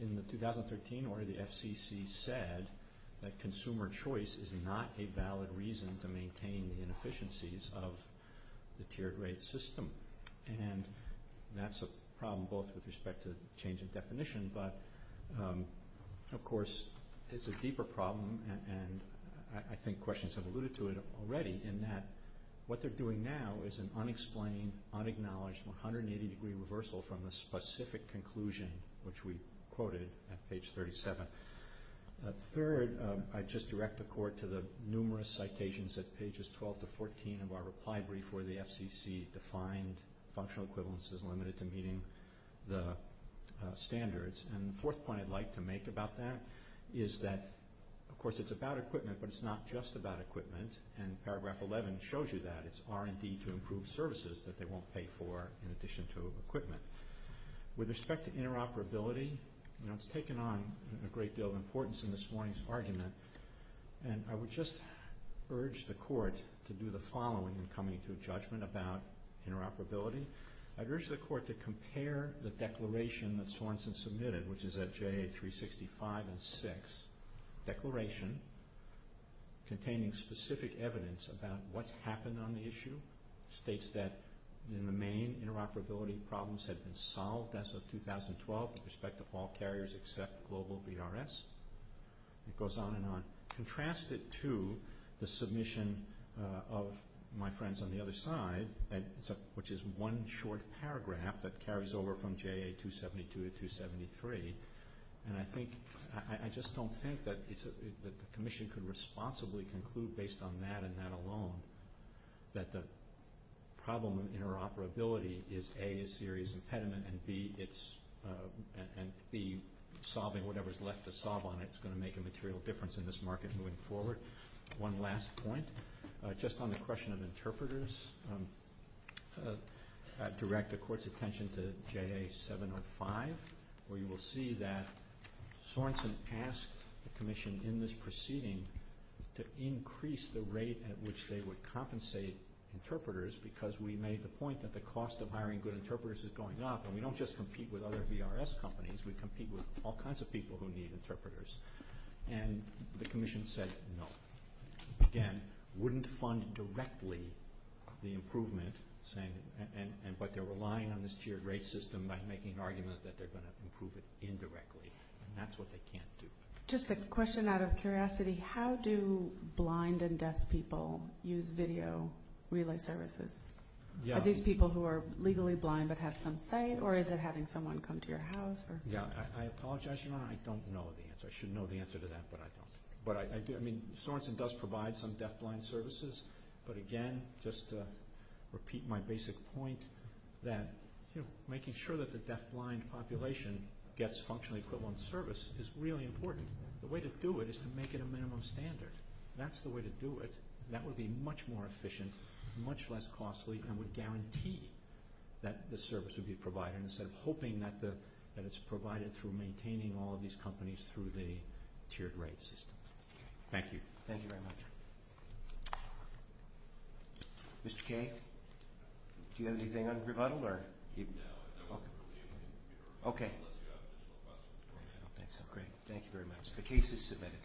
In the 2013 order, the FCC said that consumer choice is not a valid reason for maintaining the inefficiencies of the tiered rate system. And that's a problem both with respect to change in definition, but, of course, it's a deeper problem. And I think questions have alluded to it already in that what they're doing now is an unexplained, unacknowledged, 180-degree reversal from a specific conclusion, which we quoted at page 37. Third, I'd just direct the Court to the numerous citations at pages 12 to 14 of our reply brief where the FCC defined functional equivalence as limited to meeting the standards. And the fourth point I'd like to make about that is that, of course, it's about equipment, but it's not just about equipment. And paragraph 11 shows you that. It's R&D to improve services that they won't pay for in addition to equipment. With respect to interoperability, it's taken on a great deal of importance in this morning's argument, and I would just urge the Court to do the following in coming to a judgment about interoperability. I'd urge the Court to compare the declaration that Swanson submitted, which is at J.A. 365 and 6, declaration containing specific evidence about what's happened on the issue. It states that the main interoperability problems have been solved as of 2012 with respect to all carriers except global VRS. It goes on and on. Contrast it to the submission of my friends on the other side, which is one short paragraph that carries over from J.A. 272 to 273. And I just don't think that the Commission can responsibly conclude based on that and that alone that the problem of interoperability is, A, a serious impediment, and, B, solving whatever's left to solve on it is going to make a material difference in this market going forward. One last point, just on the question of interpreters, direct the Court's attention to J.A. 705, where you will see that Swanson asked the Commission in this proceeding to increase the rate at which they would compensate interpreters because we made the point that the cost of hiring good interpreters is going up, and we don't just compete with other VRS companies. We compete with all kinds of people who need interpreters. And the Commission said no, and wouldn't fund directly the improvement, but they're relying on this tiered rate system by making an argument that they're going to improve it indirectly, and that's what they can't do. Just a question out of curiosity. How do blind and deaf people use video relay services? Are these people who are legally blind but have some sight, or is it having someone come to your house? I apologize, Your Honor, I don't know the answer. I should know the answer to that, but I don't. Swanson does provide some deafblind services, but again, just to repeat my basic point, that making sure that the deafblind population gets functionally equivalent service is really important. The way to do it is to make it a minimum standard. That's the way to do it. That would be much more efficient, much less costly, and would guarantee that the service would be provided instead of hoping that it's provided through maintaining all of these companies through the tiered rate system. Thank you. Thank you very much. Mr. Cage? Do you have anything on rebuttal? No. Okay. That's great. Thank you very much. The case is submitted.